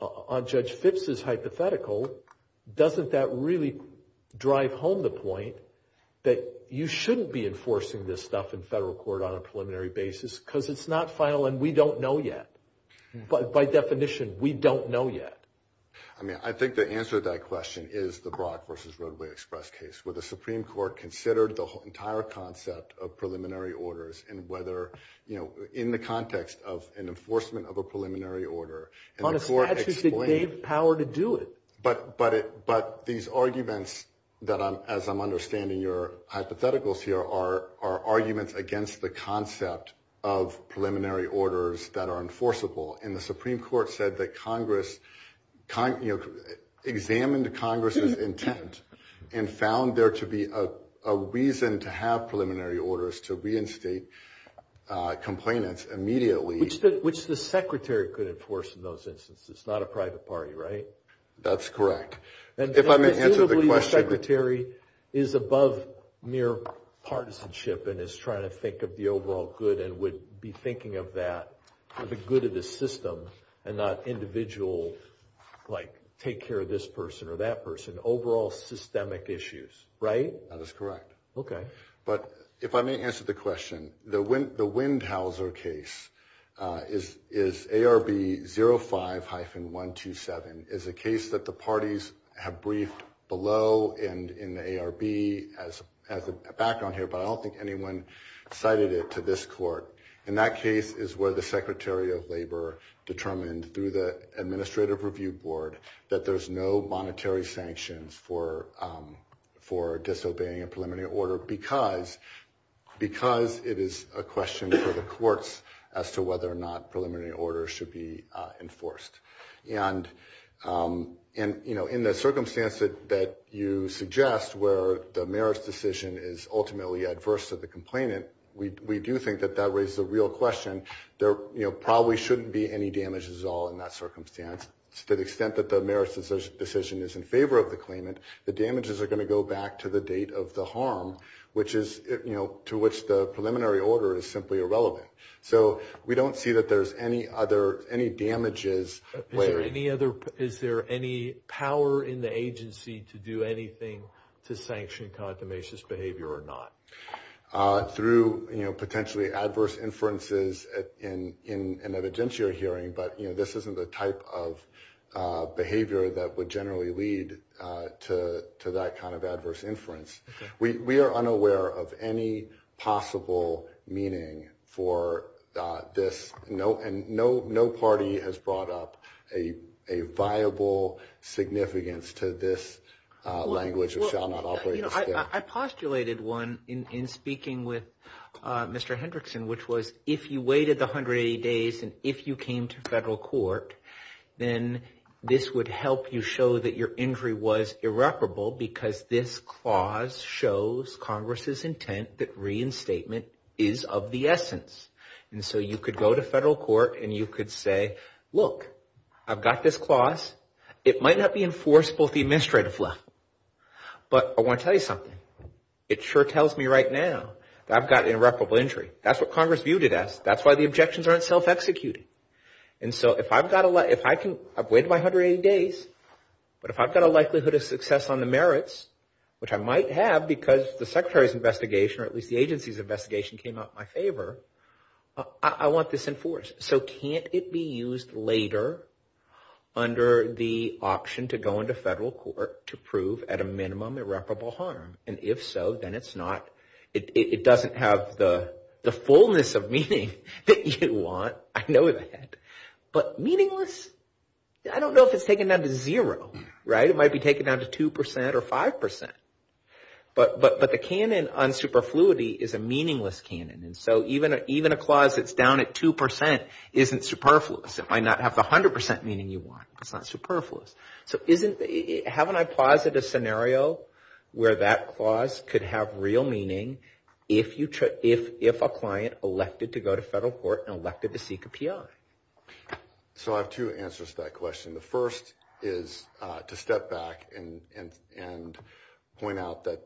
on Judge Fitts' hypothetical, doesn't that really drive home the point that you shouldn't be enforcing this stuff in federal court on a preliminary basis because it's not final and we don't know yet? By definition, we don't know yet. I mean, I think the answer to that question is the Brock v. Rodley Express case, where the Supreme Court considered the entire concept of preliminary orders, and whether, you know, in the context of an enforcement of a preliminary order— On a statute that gave the power to do it. But these arguments, as I'm understanding your hypotheticals here, are arguments against the concept of preliminary orders that are enforceable, and the Supreme Court said that Congress examined Congress' intent and found there to be a reason to have preliminary orders to reinstate complainants immediately. Which the Secretary could enforce in those instances. It's not a private party, right? That's correct. If I may answer the question— And presumably the Secretary is above mere partisanship and is trying to think of the overall good and would be thinking of that as a good of the system and not individual, like, take care of this person or that person, overall systemic issues, right? That is correct. Okay. But if I may answer the question, the Windhauser case is ARB 05-127. It's a case that the parties have briefed below and in the ARB as a background here, but I don't think anyone cited it to this court. And that case is where the Secretary of Labor determined through the Administrative Review Board that there's no monetary sanctions for disobeying a preliminary order because it is a question for the courts as to whether or not preliminary orders should be enforced. And in the circumstance that you suggest where the merits decision is ultimately adverse to the complainant, we do think that that raises a real question. There probably shouldn't be any damages at all in that circumstance. To the extent that the merits decision is in favor of the claimant, the damages are going to go back to the date of the harm to which the preliminary order is simply irrelevant. So we don't see that there's any other damages. Is there any power in the agency to do anything to sanction consummationist behavior or not? Through potentially adverse inferences in an evidentiary hearing, but this isn't the type of behavior that would generally lead to that kind of adverse inference. We are unaware of any possible meaning for this, and no party has brought up a viable significance to this language. I postulated one in speaking with Mr. Hendrickson, which was if you waited 180 days and if you came to federal court, then this would help you show that your injury was irreparable because this clause shows Congress's intent that reinstatement is of the essence. And so you could go to federal court and you could say, look, I've got this clause. It might not be enforceable if the administrator's left, but I want to tell you something. It sure tells me right now that I've got an irreparable injury. That's what Congress viewed it as. That's why the objections aren't self-executing. And so if I've waited 180 days, but if I've got a likelihood of success on the merits, which I might have because the secretary's investigation or at least the agency's investigation came out in my favor, I want this enforced. So can't it be used later under the option to go into federal court to prove at a minimum irreparable harm? And if so, then it doesn't have the fullness of meaning that you want. I know that. But meaningless, I don't know if it's taken down to zero. It might be taken down to 2% or 5%. But the canon on superfluity is a meaningless canon. And so even a clause that's down at 2% isn't superfluous. It might not have 100% meaning you want. It's not superfluous. So haven't I posited a scenario where that clause could have real meaning if a client elected to go to federal court and elected to seek a PI? So I have two answers to that question. The first is to step back and point out that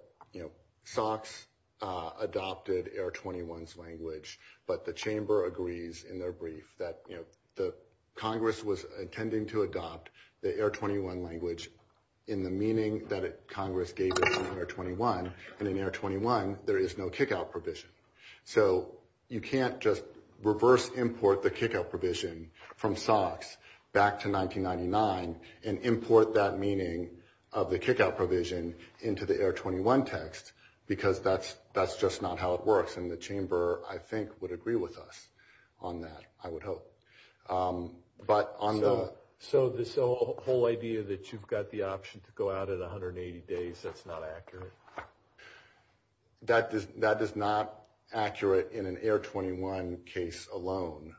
SOX adopted AIR-21's language, but the chamber agrees in their brief that Congress was intending to adopt the AIR-21 language in the meaning that Congress gave it in AIR-21. And in AIR-21, there is no kick-out provision. So you can't just reverse import the kick-out provision from SOX back to 1999 and import that meaning of the kick-out provision into the AIR-21 text because that's just not how it works. And the chamber, I think, would agree with us on that, I would hope. So this whole idea that you've got the option to go out at 180 days, that's not accurate? That is not accurate in an AIR-21 case alone.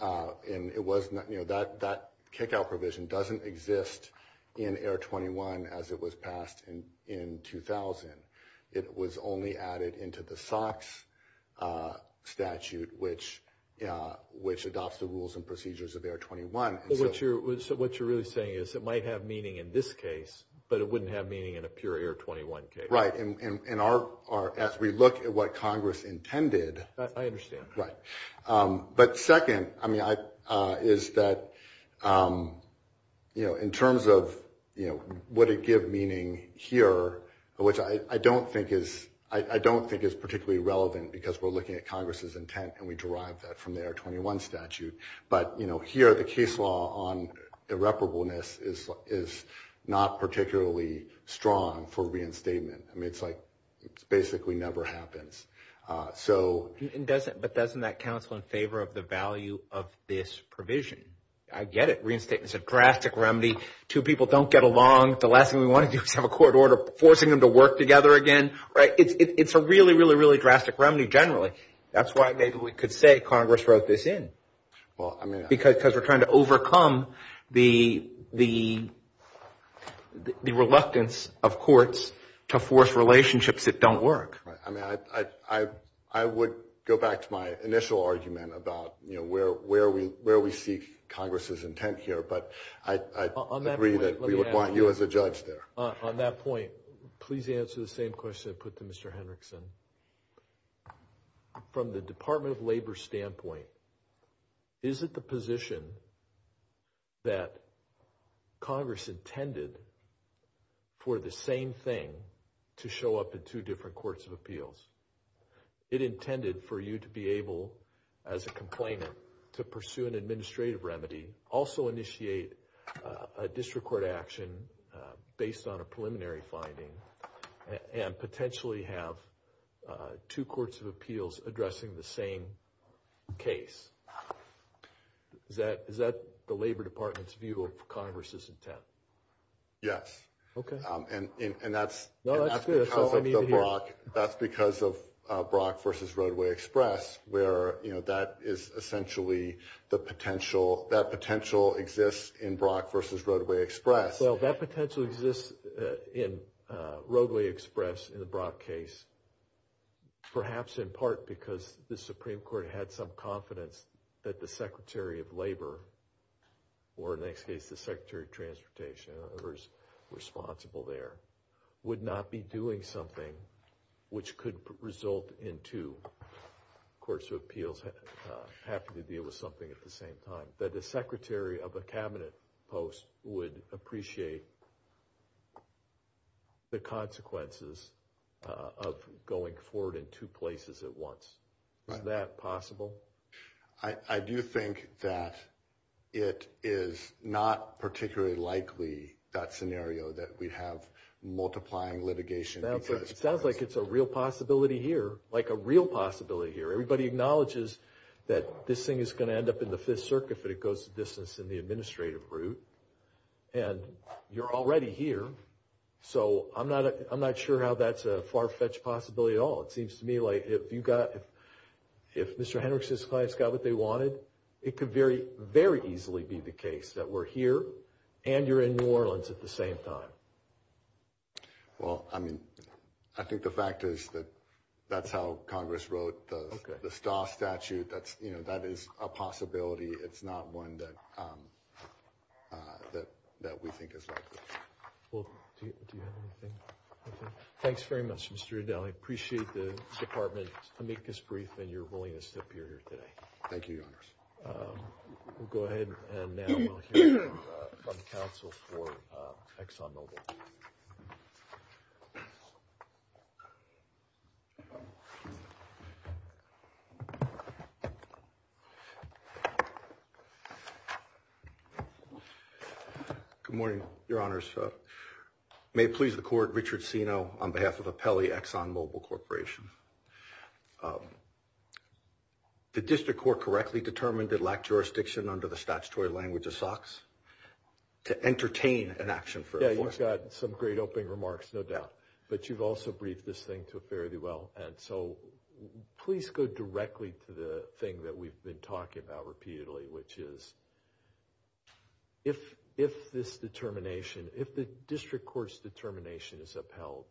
And that kick-out provision doesn't exist in AIR-21 as it was passed in 2000. It was only added into the SOX statute, which adopts the rules and procedures of AIR-21. So what you're really saying is it might have meaning in this case, but it wouldn't have meaning in a pure AIR-21 case. Right. And as we look at what Congress intended. I understand. Right. But second is that in terms of what it gives meaning here, which I don't think is particularly relevant because we're looking at Congress's intent and we derived that from the AIR-21 statute. But here the case law on irreparableness is not particularly strong for reinstatement. It basically never happens. But doesn't that counsel in favor of the value of this provision? I get it. Reinstatement is a drastic remedy. Two people don't get along. The last thing we want to do is have a court order forcing them to work together again. It's a really, really, really drastic remedy generally. That's why maybe we could say Congress wrote this in. Because we're trying to overcome the reluctance of courts to force relationships that don't work. I would go back to my initial argument about where we see Congress's intent here. But I agree that we would want you as a judge there. On that point, please answer the same question I put to Mr. Hendrickson. From the Department of Labor standpoint, is it the position that Congress intended for the same thing to show up in two different courts of appeals? It intended for you to be able, as a complainant, to pursue an administrative remedy, also initiate a district court action based on a preliminary finding, and potentially have two courts of appeals addressing the same case. Is that the Labor Department's view of Congress's intent? Yes. Okay. And that's because of Brock v. Roadway Express, where that potential exists in Brock v. Roadway Express. So that potential exists in Roadway Express in the Brock case, perhaps in part because the Supreme Court had some confidence that the Secretary of Labor, or in that case the Secretary of Transportation, or whoever is responsible there, would not be doing something which could result in two courts of appeals having to deal with something at the same time. That the Secretary of a cabinet post would appreciate the consequences of going forward in two places at once. Is that possible? I do think that it is not particularly likely, that scenario, that we'd have multiplying litigation. It sounds like it's a real possibility here, like a real possibility here. Everybody acknowledges that this thing is going to end up in the Fifth Circuit if it goes to business in the administrative route, and you're already here. So I'm not sure how that's a far-fetched possibility at all. It seems to me like if Mr. Henrichs and his clients got what they wanted, it could very easily be the case that we're here and you're in New Orleans at the same time. Well, I mean, I think the fact is that that's how Congress wrote the Stas statute. That is a possibility. It's not one that we think is likely. Well, do you have anything? Thanks very much, Mr. Udall. I appreciate the Department's amicus brief and your willingness to appear here today. Thank you, Your Honor. We'll go ahead and now we'll hear from the counsel for ExxonMobil. Good morning, Your Honors. May it please the Court, Richard Sino on behalf of Apelli ExxonMobil Corporation. The district court correctly determined it lacked jurisdiction under the statutory language of SOX to entertain an action for a court. Yeah, you've got some great opening remarks, no doubt, but you've also briefed this thing fairly well. And so please go directly to the thing that we've been talking about repeatedly, which is if this determination, if the district court's determination is upheld,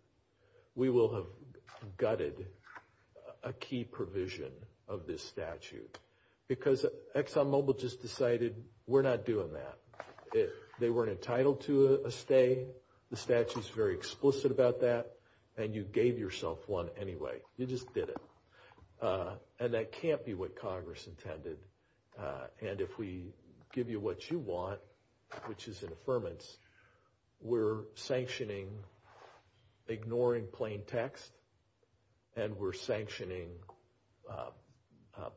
we will have gutted a key provision of this statute. Because ExxonMobil just decided we're not doing that. They weren't entitled to a stay. The statute's very explicit about that. And you gave yourself one anyway. You just did it. And that can't be what Congress intended. And if we give you what you want, which is an affirmance, we're sanctioning ignoring plain text, and we're sanctioning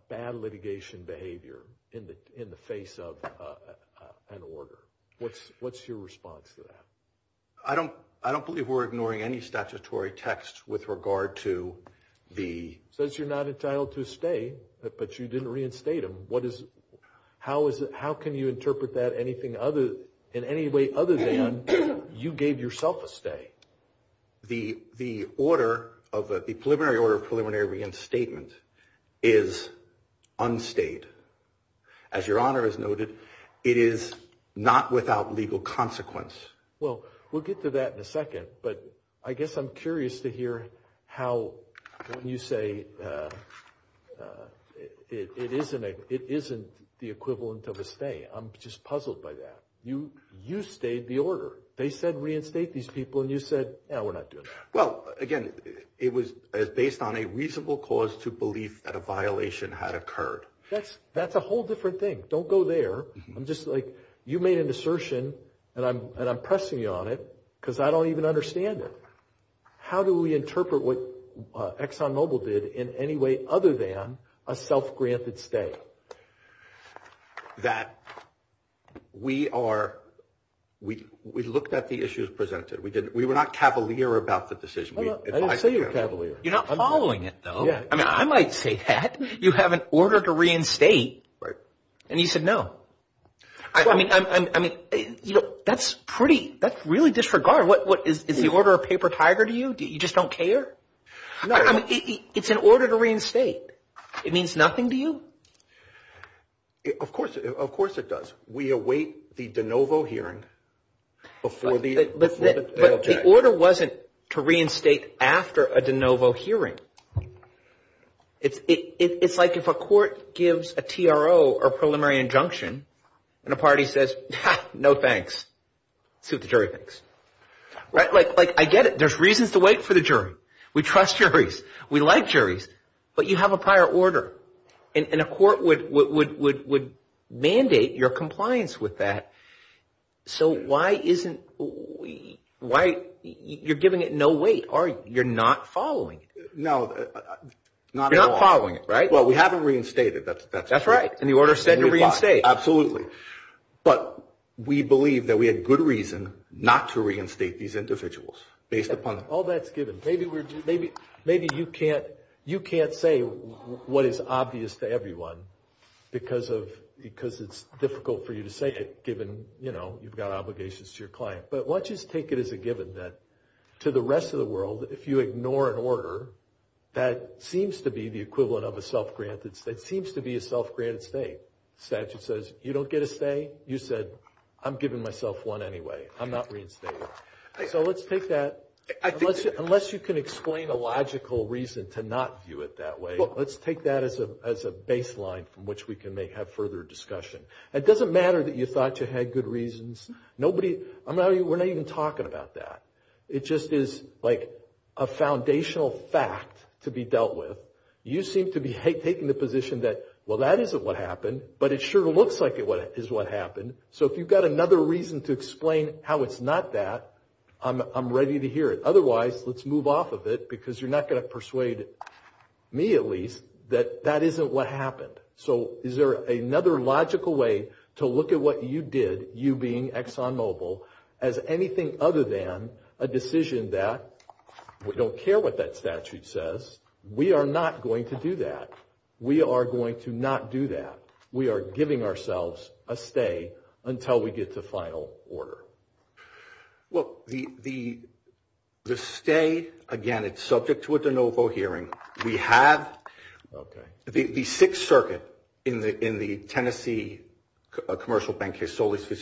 bad litigation behavior in the face of an order. What's your response to that? I don't believe we're ignoring any statutory text with regard to the... How can you interpret that in any way other than you gave yourself a stay? The preliminary order of preliminary reinstatement is unstayed. As Your Honor has noted, it is not without legal consequence. Well, we'll get to that in a second. But I guess I'm curious to hear how you say it isn't the equivalent of a stay. I'm just puzzled by that. You stayed the order. They said reinstate these people, and you said, no, we're not doing that. Well, again, it was based on a reasonable cause to believe that a violation had occurred. That's a whole different thing. Don't go there. You made an assertion, and I'm pressing you on it because I don't even understand it. How do we interpret what ExxonMobil did in any way other than a self-granted stay? That we looked at the issues presented. We were not cavalier about the decision. I didn't say you were cavalier. You're not following it, though. I might say that. You have an order to reinstate. And you said no. I mean, that's pretty – that's really disregard. Is the order a paper tiger to you? You just don't care? It's an order to reinstate. It means nothing to you? Of course it does. We await the de novo hearing before the objection. But the order wasn't to reinstate after a de novo hearing. It's like if a court gives a TRO or preliminary injunction, and a party says, no thanks. See what the jury thinks. I get it. There's reasons to wait for the jury. We trust juries. We like juries. But you have a prior order, and a court would mandate your compliance with that. So why isn't – you're giving it no weight. You're not following it. No. Not at all. You're not following it, right? Well, we haven't reinstated. That's right. And the order said to reinstate. Absolutely. But we believe that we had good reason not to reinstate these individuals based upon – All that's given. Maybe you can't say what is obvious to everyone because it's difficult for you to say it, given you've got obligations to your client. But why don't you just take it as a given that to the rest of the world, if you ignore an order that seems to be the equivalent of a self-granted – that seems to be a self-granted stay. Satchel says, you don't get a stay? You said, I'm giving myself one anyway. I'm not reinstating. So let's take that. Unless you can explain a logical reason to not view it that way, let's take that as a baseline from which we can have further discussion. It doesn't matter that you thought you had good reasons. We're not even talking about that. It just is like a foundational fact to be dealt with. You seem to be taking the position that, well, that isn't what happened, but it sure looks like it is what happened. So if you've got another reason to explain how it's not that, I'm ready to hear it. Otherwise, let's move off of it because you're not going to persuade me, at least, that that isn't what happened. So is there another logical way to look at what you did, you being ExxonMobil, as anything other than a decision that we don't care what that statute says. We are not going to do that. We are going to not do that. We are giving ourselves a stay until we get to final order. Well, the stay, again, it's subject to a de novo hearing. We had the Sixth Circuit in the Tennessee Commercial Bank case, Solace v.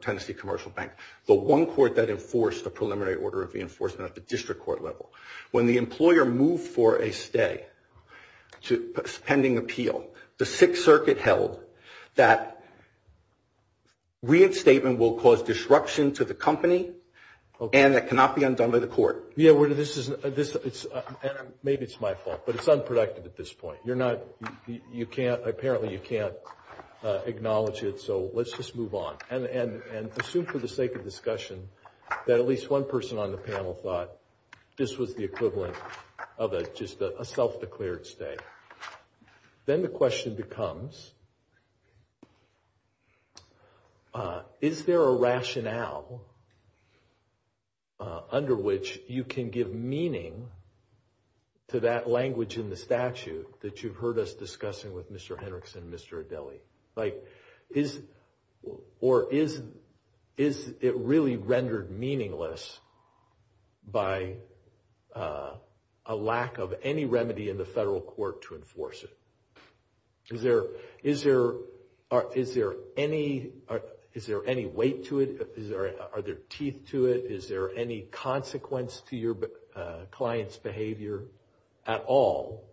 Tennessee Commercial Bank, the one court that enforced the preliminary order of reinforcement at the district court level. When the employer moved for a stay pending appeal, the Sixth Circuit held that reinstatement will cause disruption to the company and that cannot be undone by the court. Maybe it's my fault, but it's unproductive at this point. Apparently, you can't acknowledge it, so let's just move on and assume for the sake of discussion that at least one person on the panel thought this was the equivalent of just a self-declared stay. Then the question becomes, is there a rationale under which you can give meaning to that language in the statute that you've heard us discussing with Mr. Hendrickson and Mr. Adili? Or is it really rendered meaningless by a lack of any remedy in the federal court to enforce it? Is there any weight to it? Are there teeth to it? Is there any consequence to your client's behavior at all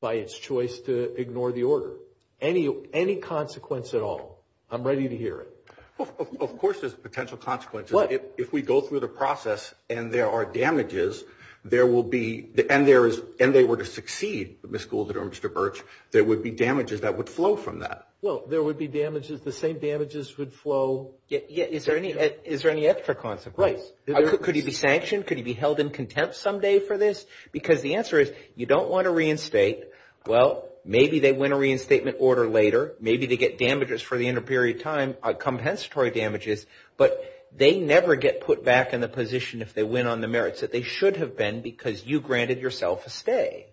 by its choice to ignore the order? Any consequence at all? I'm ready to hear it. Of course there's potential consequences. If we go through the process and there are damages, and they were to succeed, the schools that are Mr. Birch, there would be damages that would flow from that. Well, there would be damages, the same damages would flow. Is there any extra consequence? Could he be sanctioned? Could he be held in contempt someday for this? Because the answer is, you don't want to reinstate. Well, maybe they win a reinstatement order later. Maybe they get damages for the interperiod time, compensatory damages, but they never get put back in a position if they win on the merits that they should have been because you granted yourself a stay.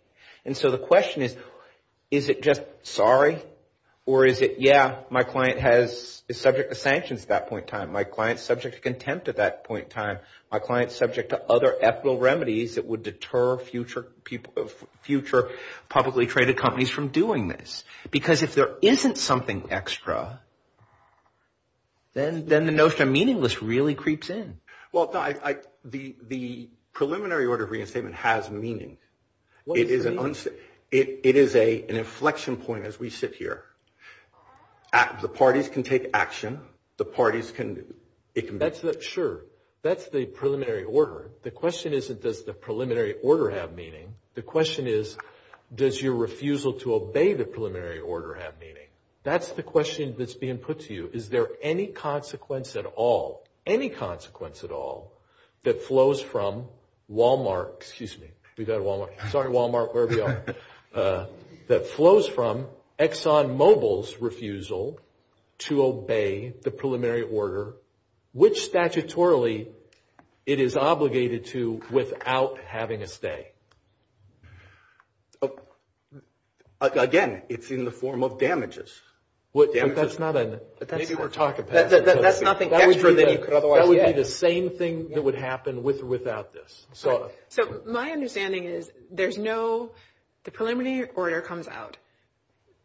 So the question is, is it just sorry? Or is it, yeah, my client is subject to sanctions at that point in time. My client is subject to contempt at that point in time. My client is subject to other ethical remedies that would deter future publicly traded companies from doing this. Because if there isn't something extra, then the notion of meaningless really creeps in. Well, the preliminary order of reinstatement has meaning. It is an inflection point as we sit here. The parties can take action. Sure, that's the preliminary order. The question isn't, does the preliminary order have meaning? The question is, does your refusal to obey the preliminary order have meaning? That's the question that's being put to you. Is there any consequence at all, any consequence at all, that flows from Walmart, excuse me, we've got a Walmart. Sorry, Walmart, wherever you are, that flows from ExxonMobil's refusal to obey the preliminary order, which statutorily it is obligated to without having a say? Again, it's in the form of damages. That's not an – maybe we're talking about – That's nothing extra. That would be the same thing that would happen with or without this, sort of. So my understanding is there's no – the preliminary order comes out.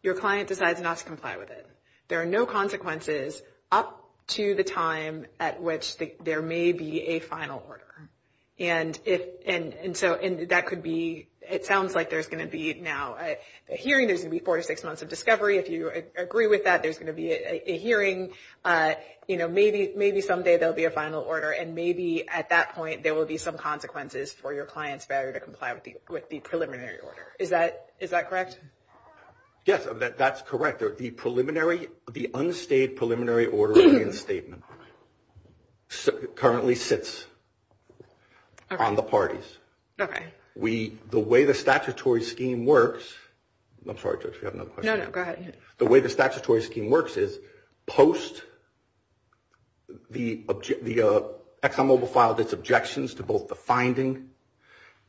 Your client decides not to comply with it. There are no consequences up to the time at which there may be a final order. And so that could be – it sounds like there's going to be now a hearing. There's going to be four to six months of discovery. If you agree with that, there's going to be a hearing. Maybe someday there will be a final order, and maybe at that point there will be some consequences for your client's failure to comply with the preliminary order. Is that correct? Yes, that's correct. The preliminary – the unstated preliminary order statement currently sits on the parties. Okay. The way the statutory scheme works – I'm sorry, Judge, we have another question. No, no, go ahead. The way the statutory scheme works is post the ExxonMobil filed its objections to both the finding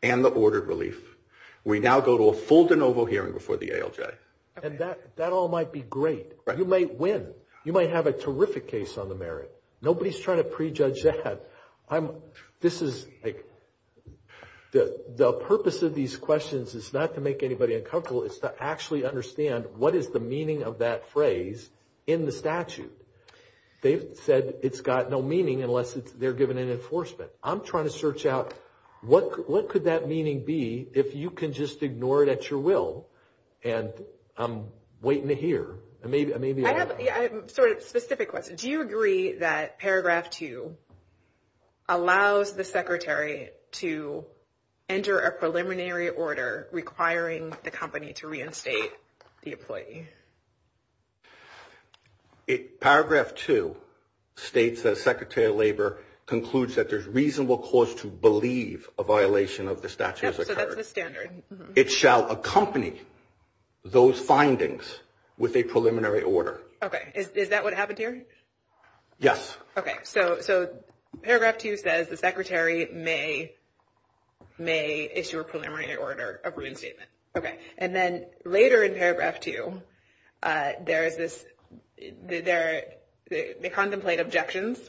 and the ordered relief, we now go to a full de novo hearing before the ALJ. And that all might be great. You might win. You might have a terrific case on the merit. Nobody's trying to prejudge that. This is – the purpose of these questions is not to make anybody uncomfortable. It's to actually understand what is the meaning of that phrase in the statute. They said it's got no meaning unless they're given an enforcement. I'm trying to search out what could that meaning be if you can just ignore it at your will and I'm waiting to hear. I have a sort of specific question. Do you agree that Paragraph 2 allows the Secretary to enter a preliminary order requiring the company to reinstate the employee? Paragraph 2 states that Secretary of Labor concludes that there's reasonable cause to believe a violation of the statute has occurred. Yes, so that's the standard. It shall accompany those findings with a preliminary order. Okay. Is that what happened here? Yes. Okay. So Paragraph 2 says the Secretary may issue a preliminary order of reinstatement. Okay. And then later in Paragraph 2, they contemplate objections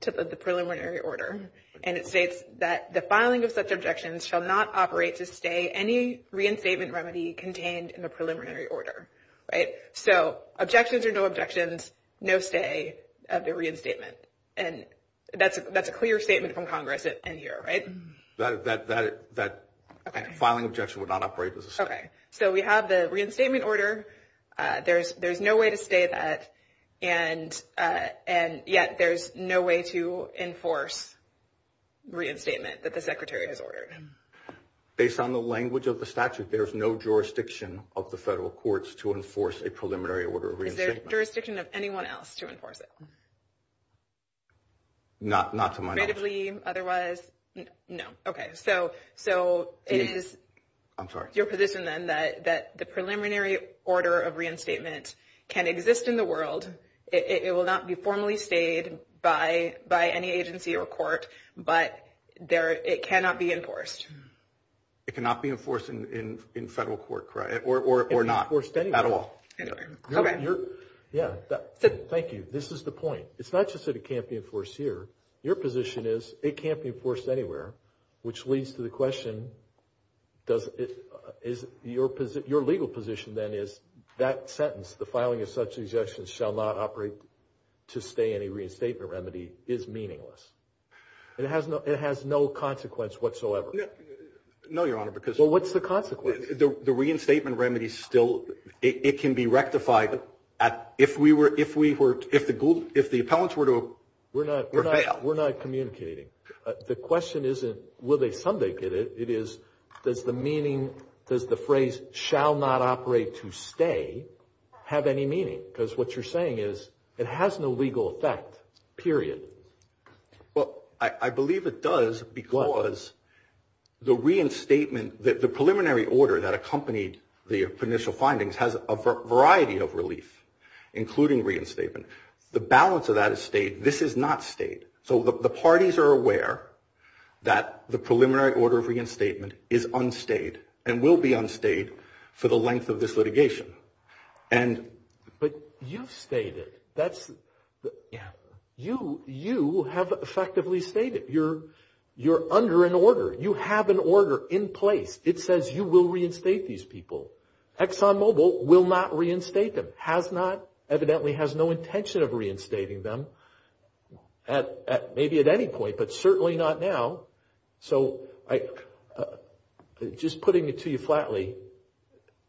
to the preliminary order, and it states that the filing of such objections shall not operate to stay any reinstatement remedy contained in the preliminary order. Right? So objections or no objections, no stay of the reinstatement. And that's a clear statement from Congress in here, right? That filing objection would not operate as a stay. Okay. So we have the reinstatement order. There's no way to stay that, and yet there's no way to enforce reinstatement that the Secretary has ordered. Based on the language of the statute, there is no jurisdiction of the federal courts to enforce a preliminary order of reinstatement. Is there jurisdiction of anyone else to enforce it? Not to my knowledge. Creatively, otherwise? No. Okay. So it is your position, then, that the preliminary order of reinstatement can exist in the world. It will not be formally stayed by any agency or court, but it cannot be enforced. It cannot be enforced in federal court, correct, or not at all. Okay. Yeah. Thank you. This is the point. It's not just that it can't be enforced here. Your position is it can't be enforced anywhere, which leads to the question, your legal position, then, is that sentence, the filing of such objections shall not operate to stay in a reinstatement remedy, is meaningless. It has no consequence whatsoever. No, Your Honor. Well, what's the consequence? The reinstatement remedy still, it can be rectified. If the appellants were to fail. We're not communicating. The question isn't will they come back and get it. It is does the meaning, does the phrase shall not operate to stay have any meaning? Because what you're saying is it has no legal effect, period. Well, I believe it does because the preliminary order that accompanied the initial findings has a variety of relief, including reinstatement. The balance of that is stayed. This is not stayed. So the parties are aware that the preliminary order of reinstatement is unstayed and will be unstayed for the length of this litigation. But you've stayed it. You have effectively stayed it. You're under an order. You have an order in place. It says you will reinstate these people. ExxonMobil will not reinstate them, has not, evidently has no intention of reinstating them, maybe at any point, but certainly not now. So just putting it to you flatly,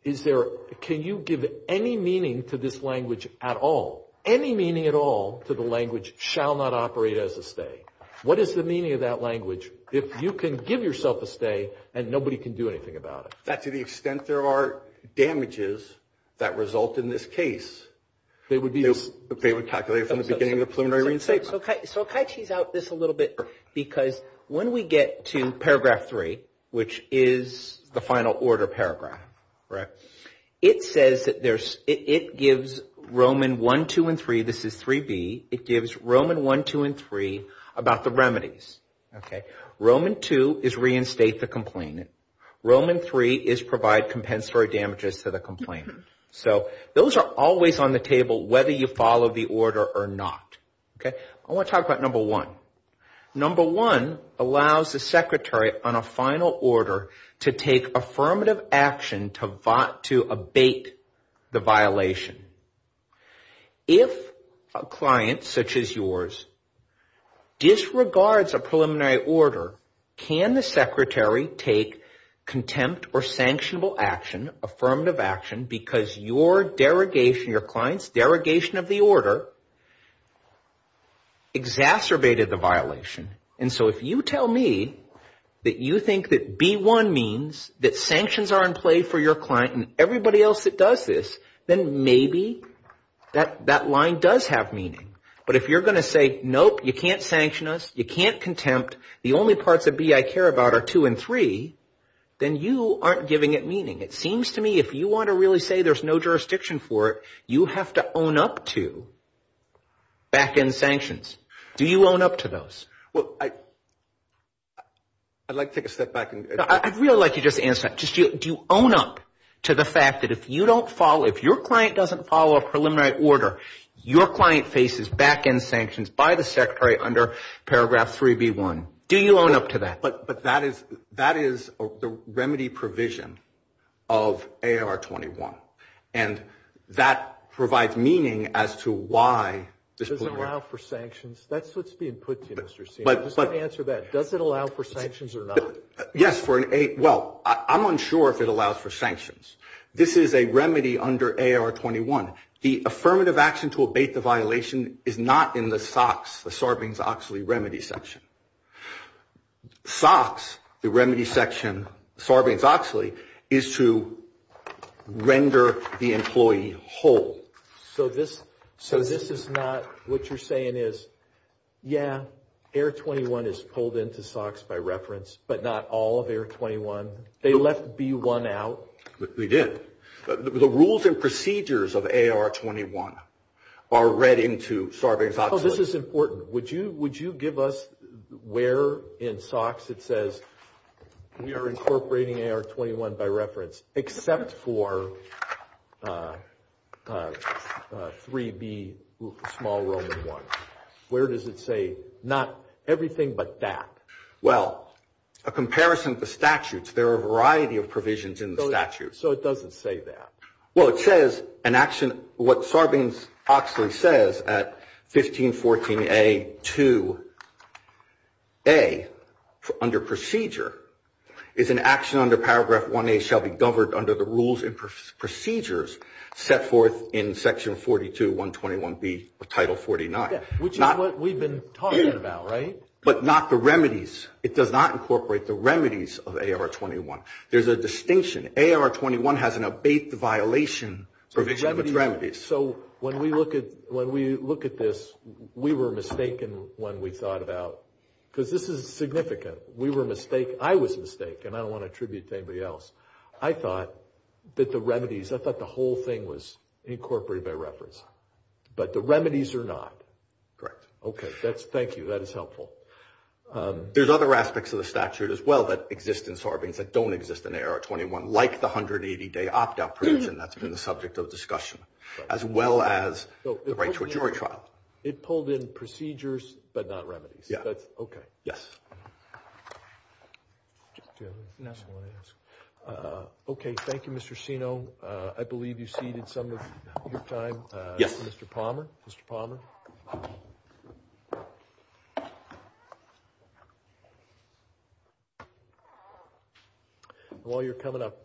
can you give any meaning to this language at all? Any meaning at all to the language shall not operate as a stay? What is the meaning of that language if you can give yourself a stay and nobody can do anything about it? That to the extent there are damages that result in this case, they would calculate from the beginning of the preliminary reinstatement. So can I tease out this a little bit? Because when we get to paragraph 3, which is the final order paragraph, it says that there's – it gives Roman 1, 2, and 3. This is 3B. It gives Roman 1, 2, and 3 about the remedies. Roman 2 is reinstate the complainant. Roman 3 is provide compensatory damages to the complainant. So those are always on the table whether you follow the order or not. I want to talk about number one. Number one allows the secretary on a final order to take affirmative action to abate the violation. If a client such as yours disregards a preliminary order, can the secretary take contempt or sanctionable action, affirmative action, because your client's derogation of the order exacerbated the violation? And so if you tell me that you think that B1 means that sanctions are in play for your client and everybody else that does this, then maybe that line does have meaning. But if you're going to say, nope, you can't sanction us, you can't contempt, the only parts of B I care about are 2 and 3, then you aren't giving it meaning. It seems to me if you want to really say there's no jurisdiction for it, you have to own up to back-end sanctions. Do you own up to those? Well, I'd like to take a step back. I'd really like you to just answer that. Do you own up to the fact that if you don't follow, if your client doesn't follow a preliminary order, your client faces back-end sanctions by the secretary under paragraph 3B1? Do you own up to that? But that is the remedy provision of AR21. And that provides meaning as to why. Does it allow for sanctions? That's what's being put to you, Mr. Steele. Just answer that. Does it allow for sanctions or not? Yes. Well, I'm unsure if it allows for sanctions. This is a remedy under AR21. The affirmative action to abate the violation is not in the SOX, the Sarbanes-Oxley remedy section. SOX, the remedy section, Sarbanes-Oxley, is to render the employee whole. So this is not what you're saying is, yeah, AR21 is pulled into SOX by reference, but not all of AR21? They left B1 out? We did. The rules and procedures of AR21 are read into Sarbanes-Oxley. Oh, this is important. Would you give us where in SOX it says we are incorporating AR21 by reference, except for 3B, small Roman 1? Where does it say not everything but that? Well, a comparison of the statutes. There are a variety of provisions in the statutes. So it doesn't say that? Well, it says an action, what Sarbanes-Oxley says at 1514A, 2A, under procedure, is an action under paragraph 1A shall be governed under the rules and procedures set forth in section 42, 121B of Title 49. Which is what we've been talking about, right? But not the remedies. It does not incorporate the remedies of AR21. There's a distinction. AR21 has an abatement violation. So when we look at this, we were mistaken when we thought about it. Because this is significant. We were mistaken. I was mistaken, and I don't want to attribute it to anybody else. I thought that the remedies, I thought the whole thing was incorporated by reference. But the remedies are not. Correct. Okay. Thank you. That is helpful. There's other aspects of the statute as well that exist in Sarbanes that don't exist in AR21, like the 180-day opt-out provision that's been the subject of discussion, as well as the right to a jury trial. It pulled in procedures but not remedies. Okay. Yes. Okay. Thank you, Mr. Sino. I believe you've ceded some of your time. Yes. Mr. Palmer? Mr. Palmer? While you're coming up,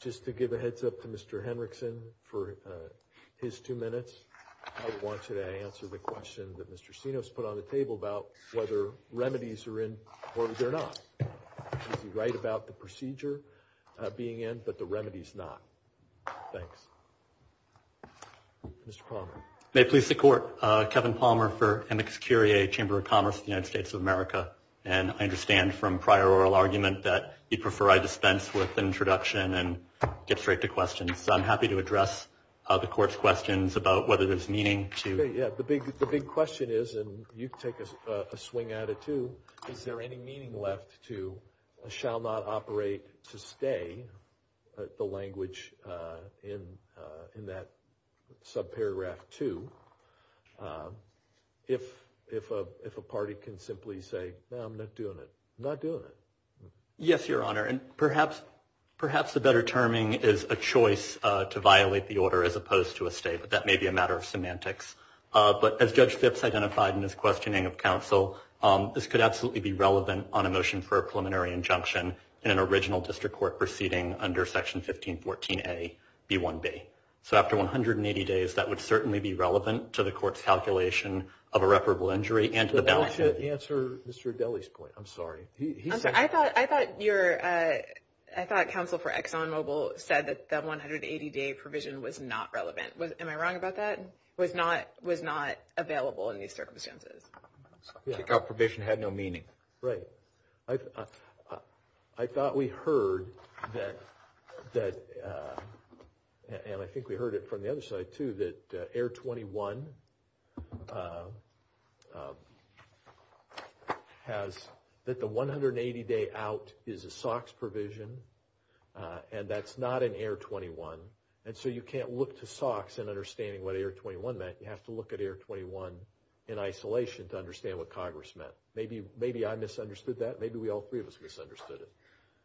just to give a heads-up to Mr. Henrickson for his two minutes, I wanted to answer the question that Mr. Sino has put on the table about whether remedies are in or they're not. He's right about the procedure being in, but the remedies not. Thanks. May it please the Court. I'm Kevin Palmer for MX Curie, Chamber of Commerce of the United States of America, and I understand from prior oral argument that you'd prefer I dispense with the introduction and get straight to questions. So I'm happy to address the Court's questions about whether there's meaning to it. Yes, the big question is, and you can take a swing at it too, is there any meaning left to shall not operate to stay, the language in that subparagraph two, if a party can simply say, no, I'm not doing it. I'm not doing it. Yes, Your Honor, and perhaps the better terming is a choice to violate the order as opposed to a stay, but that may be a matter of semantics. But as Judge Gipps identified in his questioning of counsel, this could absolutely be relevant on a motion for a preliminary injunction in an original district court proceeding under Section 1514A, B1B. So after 180 days, that would certainly be relevant to the Court's calculation of irreparable injury and to the balance sheet. Answer Mr. Adele's point. I'm sorry. I thought counsel for ExxonMobil said that the 180-day provision was not relevant. Am I wrong about that? It was not available in these circumstances. The provision had no meaning. Right. I thought we heard that, and I think we heard it from the other side too, that Air 21 has that the 180-day out is a SOX provision, and that's not in Air 21. And so you can't look to SOX in understanding what Air 21 meant. You have to look at Air 21 in isolation to understand what Congress meant. Maybe I misunderstood that. Maybe we all three of us misunderstood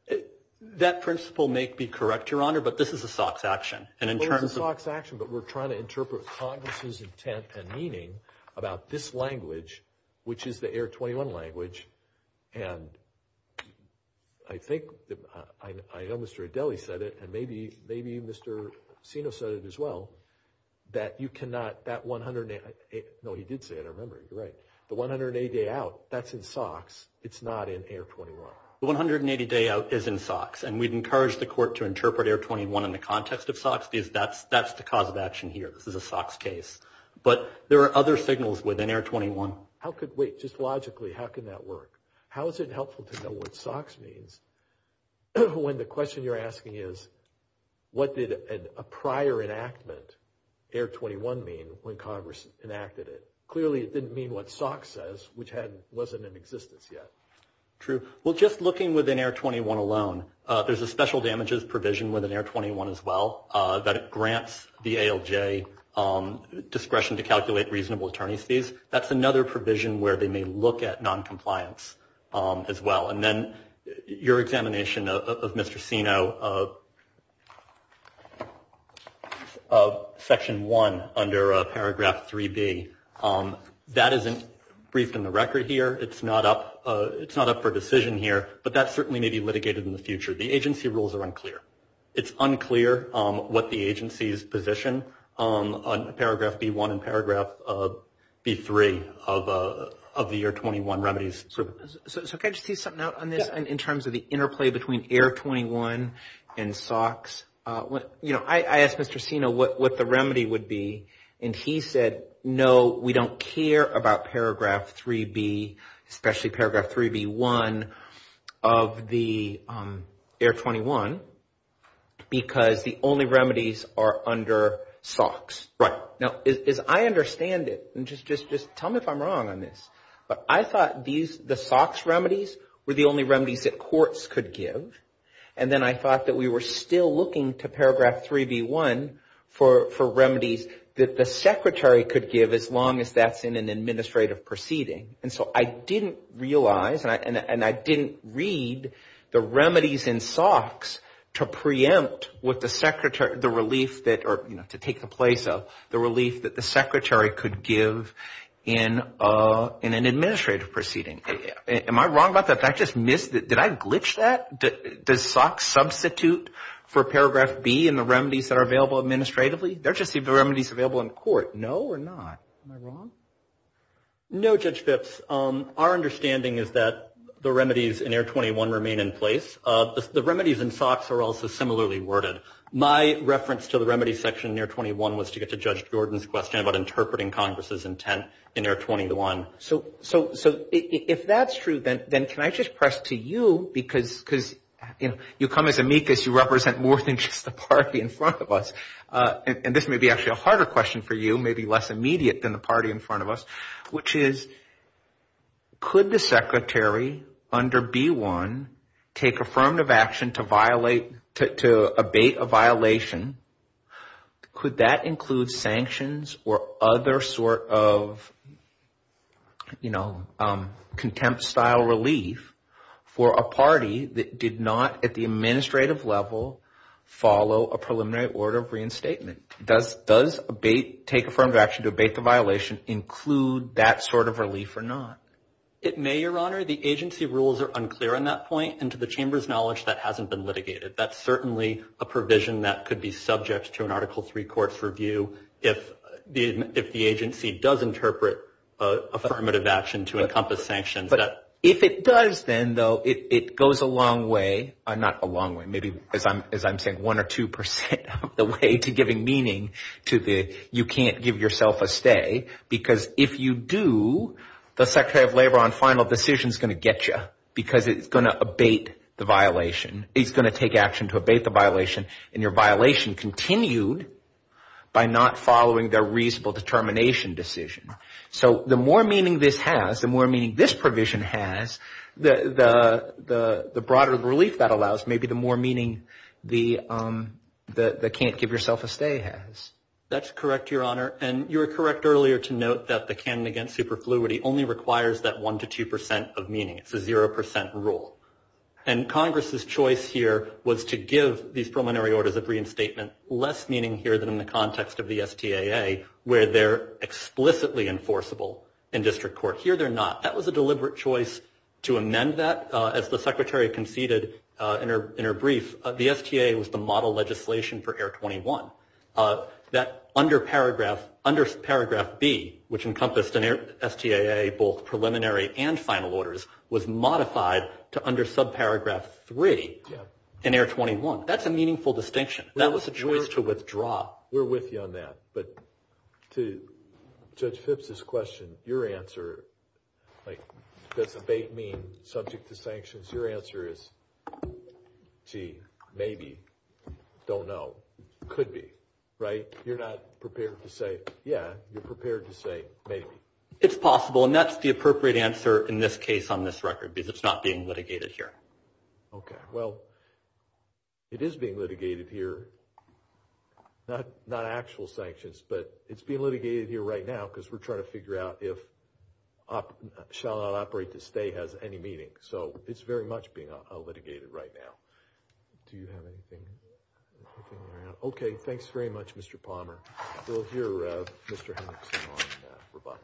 it. That principle may be correct, Your Honor, but this is a SOX action. It's a SOX action, but we're trying to interpret Congress's intent and meaning about this language, which is the Air 21 language. And I think Mr. Adele said it, and maybe Mr. Sino said it as well, that you cannot, that 180 – no, he did say it. I remember. He's right. The 180-day out, that's in SOX. It's not in Air 21. The 180-day out is in SOX, and we've encouraged the court to interpret Air 21 in the context of SOX, because that's the cause of action here is a SOX case. But there are other signals within Air 21. Wait. Just logically, how can that work? How is it helpful to know what SOX means when the question you're asking is, what did a prior enactment, Air 21, mean when Congress enacted it? Clearly, it didn't mean what SOX says, which wasn't in existence yet. True. Well, just looking within Air 21 alone, there's a special damages provision within Air 21 as well that grants the ALJ discretion to calculate reasonable attorneys fees. That's another provision where they may look at noncompliance as well. And then your examination of Mr. Sino of Section 1 under Paragraph 3B, that isn't briefed in the record here. It's not up for decision here, but that certainly may be litigated in the future. The agency rules are unclear. It's unclear what the agency's position on Paragraph B1 and Paragraph B3 of the Air 21 remedies. So can I just piece something out on this in terms of the interplay between Air 21 and SOX? I asked Mr. Sino what the remedy would be, and he said, no, we don't care about Paragraph 3B, especially Paragraph 3B1 of the Air 21, because the only remedies are under SOX. Right. Now, as I understand it, and just tell me if I'm wrong on this, but I thought the SOX remedies were the only remedies that courts could give. And then I thought that we were still looking to Paragraph 3B1 for remedies that the secretary could give as long as that's in an administrative proceeding. And so I didn't realize, and I didn't read the remedies in SOX to preempt the relief that, or to take the place of the relief that the secretary could give in an administrative proceeding. Am I wrong about that? Did I glitch that? Did SOX substitute for Paragraph B in the remedies that are available administratively? They're just the remedies available in court. No or not? Am I wrong? No, Judge Phipps. Our understanding is that the remedies in Air 21 remain in place. The remedies in SOX are also similarly worded. My reference to the remedy section in Air 21 was to get to Judge Jordan's question about interpreting Congress's intent in Air 21. So if that's true, then can I just press to you because you come as amicus. You represent more than just the party in front of us. And this may be actually a harder question for you, maybe less immediate than the party in front of us, which is could the secretary under B1 take affirmative action to abate a violation? Could that include sanctions or other sort of contempt-style relief for a party that did not at the administrative level follow a preliminary order of reinstatement? Does take affirmative action to abate the violation include that sort of relief or not? It may, Your Honor. The agency rules are unclear on that point. And to the Chamber's knowledge, that hasn't been litigated. That's certainly a provision that could be subject to an Article III court's review if the agency does interpret affirmative action to encompass sanctions. But if it does, then, though, it goes a long way. Not a long way. Maybe, as I'm saying, one or two percent of the way to giving meaning to the you can't give yourself a stay. Because if you do, the Secretary of Labor on final decision is going to get you because it's going to abate the violation. It's going to take action to abate the violation, and your violation continued by not following their reasonable determination decision. So the more meaning this has, the more meaning this provision has, the broader relief that allows may be the more meaning the can't give yourself a stay has. That's correct, Your Honor. And you were correct earlier to note that the can and against superfluity only requires that one to two percent of meaning. It's a zero percent rule. And Congress's choice here was to give these preliminary orders of reinstatement less meaning here than in the context of the STAA, where they're explicitly enforceable in district court. Here they're not. That was a deliberate choice to amend that. As the Secretary conceded in her brief, the STAA was the model legislation for Air 21. That under paragraph B, which encompassed STAA both preliminary and final orders, was modified to under subparagraph 3 in Air 21. That's a meaningful distinction. That was a choice to withdraw. We're with you on that. But to Judge Phipps' question, your answer, does abate mean subject to sanctions? Your answer is, gee, maybe, don't know, could be, right? You're not prepared to say, yeah, you're prepared to say maybe. It's possible. And that's the appropriate answer in this case on this record because it's not being litigated here. Okay. Well, it is being litigated here. Not actual sanctions, but it's being litigated here right now because we're trying to figure out if shall not operate the STAA has any meaning. So it's very much being litigated right now. Do you have anything? Okay. Thanks very much, Mr. Palmer. We'll hear Mr. Hemmings on rebuttal.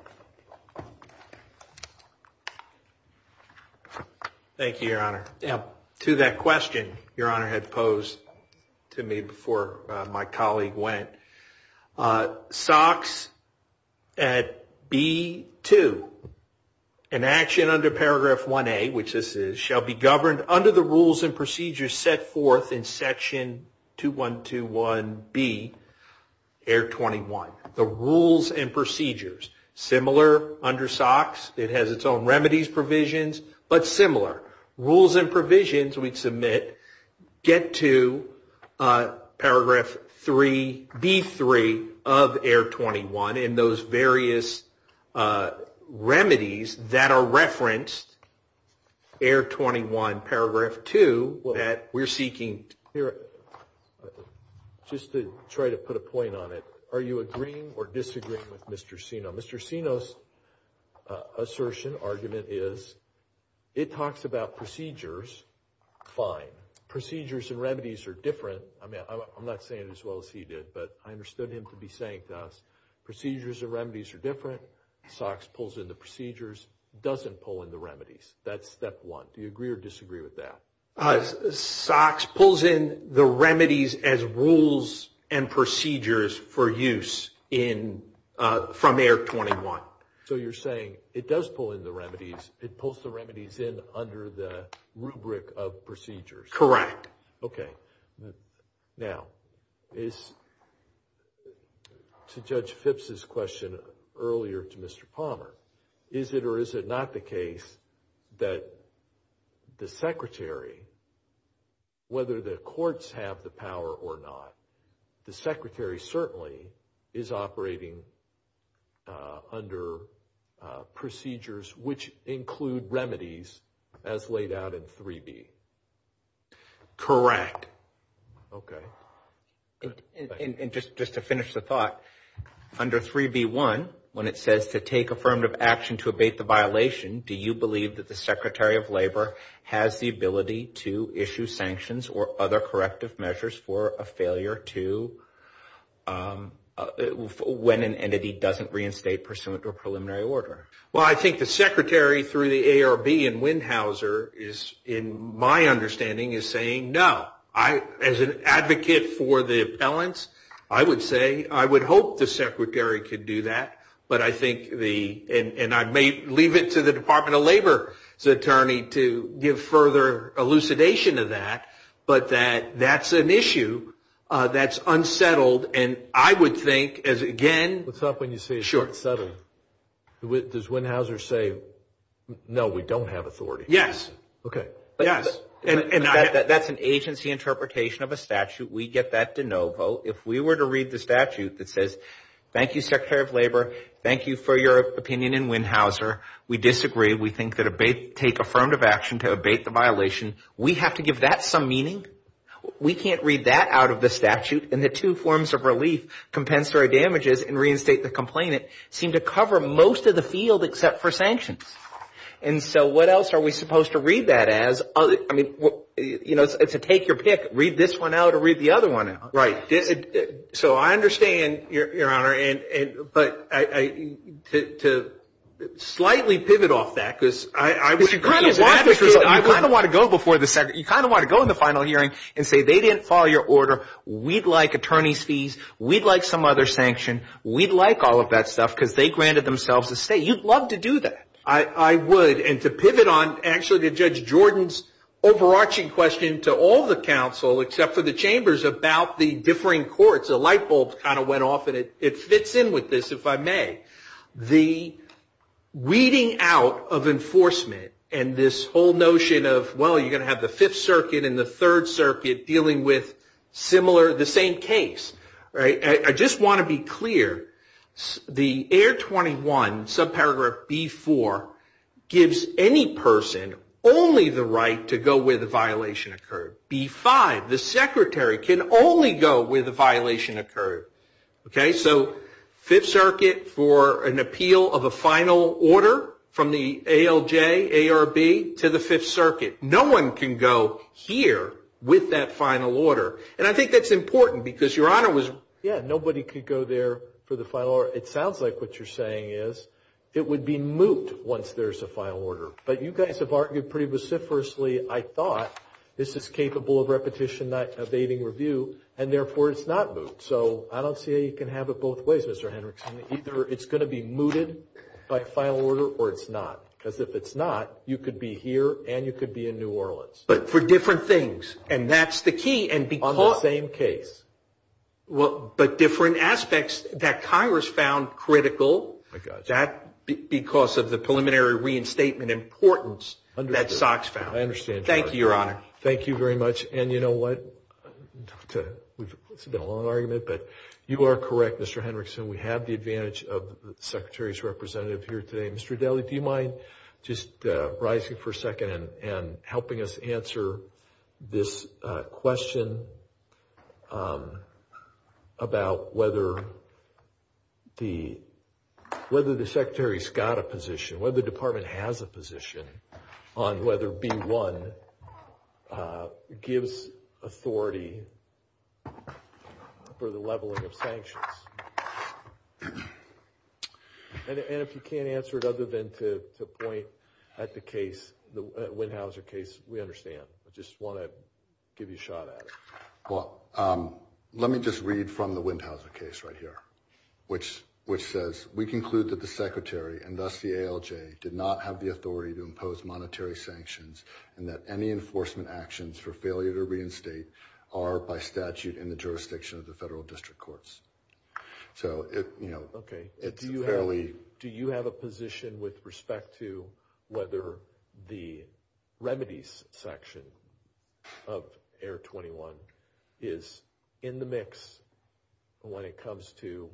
Thank you, Your Honor. To that question Your Honor had posed to me before my colleague went, SOX at B2, an action under paragraph 1A, which this is, shall be governed under the rules and procedures set forth in section 2121B, air 21. The rules and procedures. Similar under SOX. It has its own remedies provisions, but similar. Rules and provisions we submit get to paragraph 3B3 of air 21 and those various remedies that are referenced air 21 paragraph 2 that we're seeking to hear. Just to try to put a point on it. Are you agreeing or disagreeing with Mr. Sino? Mr. Sino's assertion, argument is it talks about procedures. Fine. Procedures and remedies are different. I'm not saying it as well as he did, but I understood him to be saying thus. Procedures and remedies are different. SOX pulls in the procedures, doesn't pull in the remedies. That's step one. Do you agree or disagree with that? SOX pulls in the remedies as rules and procedures for use from air 21. So you're saying it does pull in the remedies. It pulls the remedies in under the rubric of procedures. Correct. Okay. Now, to Judge Phipps' question earlier to Mr. Palmer. Is it or is it not the case that the secretary, whether the courts have the power or not, the secretary certainly is operating under procedures which include remedies as laid out in 3B. Correct. Okay. And just to finish the thought, under 3B1, when it says to take affirmative action to abate the violation, do you believe that the secretary of labor has the ability to issue sanctions or other corrective measures for a failure to, when an entity doesn't reinstate pursuant to a preliminary order? Well, I think the secretary through the ARB and Windhauser is, in my understanding, is saying no. As an advocate for the appellants, I would say, I would hope the secretary could do that, but I think the, and I may leave it to the Department of Labor's attorney to give further elucidation of that, but that that's an issue that's unsettled, and I would think, as again. What's up when you say it's unsettled? Sure. Does Windhauser say, no, we don't have authority? Yes. Okay. Yes. And that's an agency interpretation of a statute. We get that de novo. If we were to read the statute that says, thank you, secretary of labor, thank you for your opinion in Windhauser, we disagree, we think that take affirmative action to abate the violation, we have to give that some meaning? We can't read that out of the statute, and the two forms of relief, compensatory damages and reinstate the complainant, seem to cover most of the field except for sanctions. And so what else are we supposed to read that as? I mean, you know, it's a take your pick. Read this one out or read the other one out. Right. So I understand, Your Honor, but to slightly pivot off that, because I kind of want to go before the, you kind of want to go in the final hearing and say they didn't follow your order, we'd like attorney's fees, we'd like some other sanction, we'd like all of that stuff because they granted themselves a stay. You'd love to do that. I would. And to pivot on actually to Judge Jordan's overarching question to all the counsel, except for the chambers about the differing courts, the light bulbs kind of went off, and it fits in with this, if I may. The weeding out of enforcement and this whole notion of, well, you're going to have the Fifth Circuit and the Third Circuit dealing with similar, the same case. I just want to be clear. The AR-21, subparagraph B-4, gives any person only the right to go where the violation occurred. B-5, the secretary can only go where the violation occurred. Okay? So Fifth Circuit for an appeal of a final order from the ALJ, ARB, to the Fifth Circuit. No one can go here with that final order. And I think that's important because your honor was. Yeah, nobody could go there for the final order. It sounds like what you're saying is it would be moot once there's a final order. But you guys have argued pretty vociferously, I thought, this is capable of repetition, not evading review, and therefore it's not moot. So I don't see how you can have it both ways, Mr. Hendrickson. Either it's going to be mooted by final order or it's not. Because if it's not, you could be here and you could be in New Orleans. But for different things. And that's the key. On the same case. But different aspects that Congress found critical. I got you. Because of the preliminary reinstatement importance that SOX found. I understand. Thank you, your honor. Thank you very much. And you know what? It's a long argument, but you are correct, Mr. Hendrickson. We have the advantage of the Secretary's representative here today, Mr. Daley. Do you mind just rising for a second and helping us answer this question about whether the Secretary's got a position, whether the Department has a position on whether B-1 gives authority for the leveling of sanctions? And if you can't answer it other than to the point at the case, the Windhauser case, we understand. I just want to give you a shot at it. Well, let me just read from the Windhauser case right here. Which says, we conclude that the Secretary, and thus the ALJ, did not have the authority to impose monetary sanctions, and that any enforcement actions for failure to reinstate are by statute in the jurisdiction of the federal district courts. Do you have a position with respect to whether the remedies section of Air 21 is in the mix when it comes to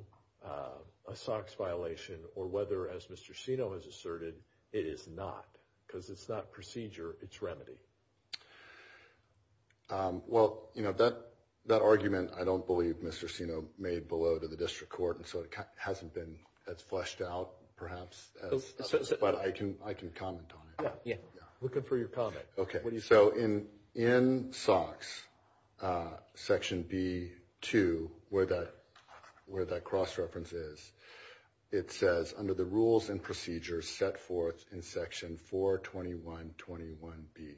a SOX violation, or whether, as Mr. Sino has asserted, it is not? Because it's not procedure, it's remedy. Well, you know, that argument I don't believe Mr. Sino made below to the district court, and so it hasn't been as fleshed out, perhaps, but I can comment on it. Yeah, we're good for your comment. Okay, so in SOX section B2, where that cross-reference is, it says, under the rules and procedures set forth in section 42121B.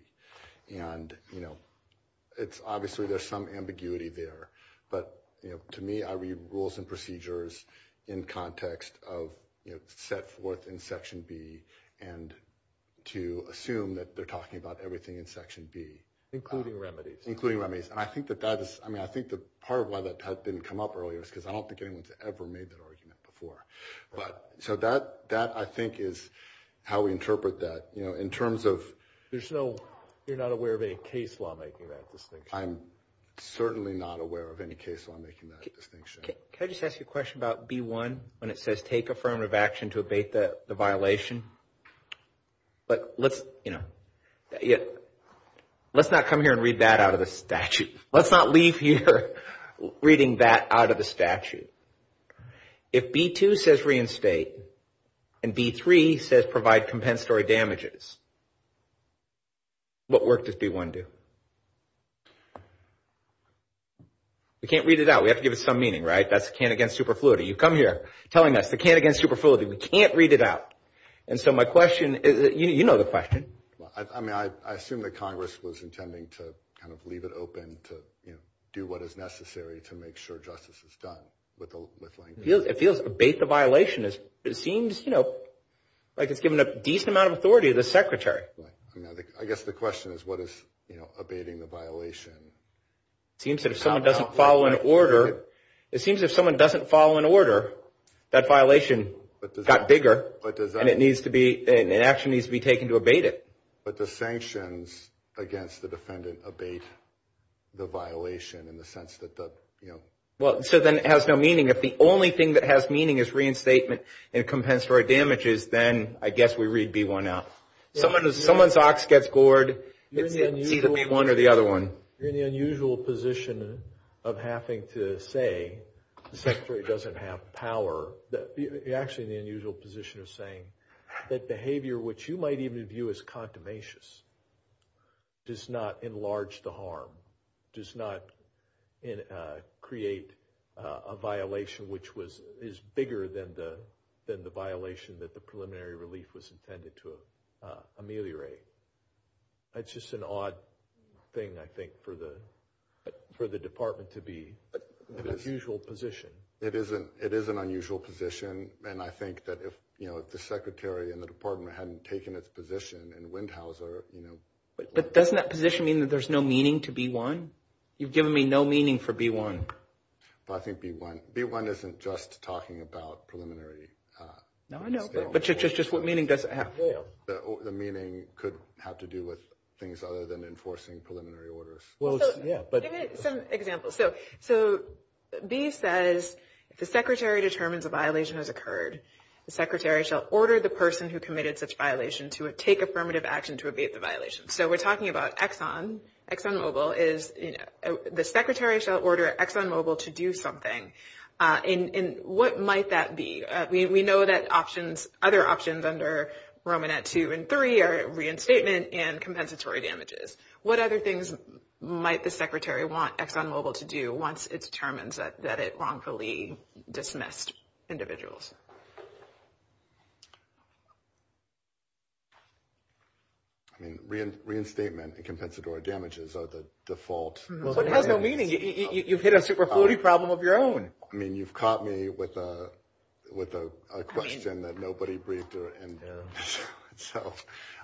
And, you know, obviously there's some ambiguity there, but to me, I read rules and procedures in context of set forth in section B, and to assume that they're talking about everything in section B. Including remedies. Including remedies. And I think that that is, I mean, I think the part of why that hasn't come up earlier is because I don't think anyone's ever made that argument before. But, so that, I think, is how we interpret that. You know, in terms of... You're not aware of any case law making that distinction. I'm certainly not aware of any case law making that distinction. Can I just ask you a question about B1, when it says take affirmative action to abate the violation? But let's, you know, let's not come here and read that out of the statute. Let's not leave here reading that out of the statute. If B2 says reinstate, and B3 says provide compensatory damages, what work does B1 do? We can't read it out. We have to give it some meaning, right? That's the can against superfluity. You come here telling us the can against superfluity. We can't read it out. And so my question is, you know the question. I mean, I assume that Congress was intending to kind of leave it open to, you know, do what is necessary to make sure justice is done with language. Abate the violation. It seems, you know, like it's given a decent amount of authority to the Secretary. I guess the question is what is, you know, abating the violation. It seems that if someone doesn't follow an order, it seems if someone doesn't follow an order, that violation got bigger and it needs to be, an action needs to be taken to abate it. But the sanctions against the defendant abate the violation in the sense that the, you know. Well, so then it has no meaning. If the only thing that has meaning is reinstatement and compensatory damages, then I guess we read B1 out. Someone's ox gets bored. It needs to be one or the other one. You're in the unusual position of having to say the Secretary doesn't have power. You're actually in the unusual position of saying that behavior which you might even view as That's just an odd thing, I think, for the Department to be in an unusual position. It is an unusual position, and I think that if, you know, if the Secretary and the Department hadn't taken its position in Windhauser, you know. But doesn't that position mean that there's no meaning to B1? You've given me no meaning for B1. Well, I think B1. B1 isn't just talking about preliminary. No, I know. But just what meaning does it have? The meaning could have to do with things other than enforcing preliminary orders. Give me some examples. So B says, if the Secretary determines a violation has occurred, the Secretary shall order the person who committed such violations to take affirmative action to abate the violation. So we're talking about Exxon, ExxonMobil is, you know, the Secretary shall order ExxonMobil to do something. And what might that be? We know that other options under Romanet 2 and 3 are reinstatement and compensatory damages. What other things might the Secretary want ExxonMobil to do once it determines that it wrongfully dismissed individuals? I mean, reinstatement and compensatory damages are the default. What has that meaning? You've hit a superfluity problem of your own. I mean, you've caught me with a question that nobody breathed in there. So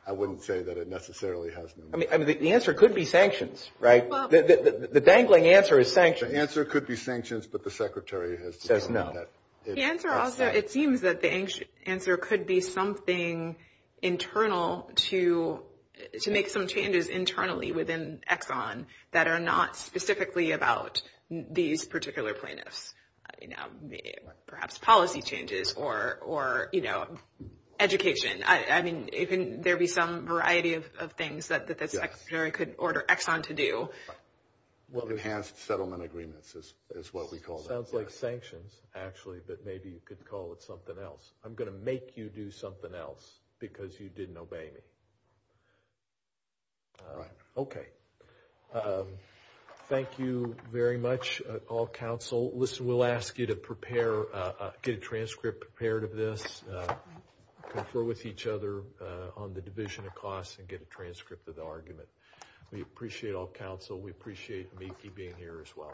I wouldn't say that it necessarily has a meaning. I mean, the answer could be sanctions, right? The dangling answer is sanctions. The answer could be sanctions, but the Secretary has said no. It seems that the answer could be something internal to make some changes internally within Exxon that are not specifically about these particular plaintiffs. Perhaps policy changes or, you know, education. I mean, there could be some variety of things that the Secretary could order Exxon to do. Enhanced settlement agreements is what we call them. It sounds like sanctions, actually, but maybe you could call it something else. I'm going to make you do something else because you didn't obey me. Okay. Thank you very much, all counsel. Listen, we'll ask you to prepare, get a transcript prepared of this. Confer with each other on the division of costs and get a transcript of the argument. We appreciate all counsel. We appreciate you being here as well.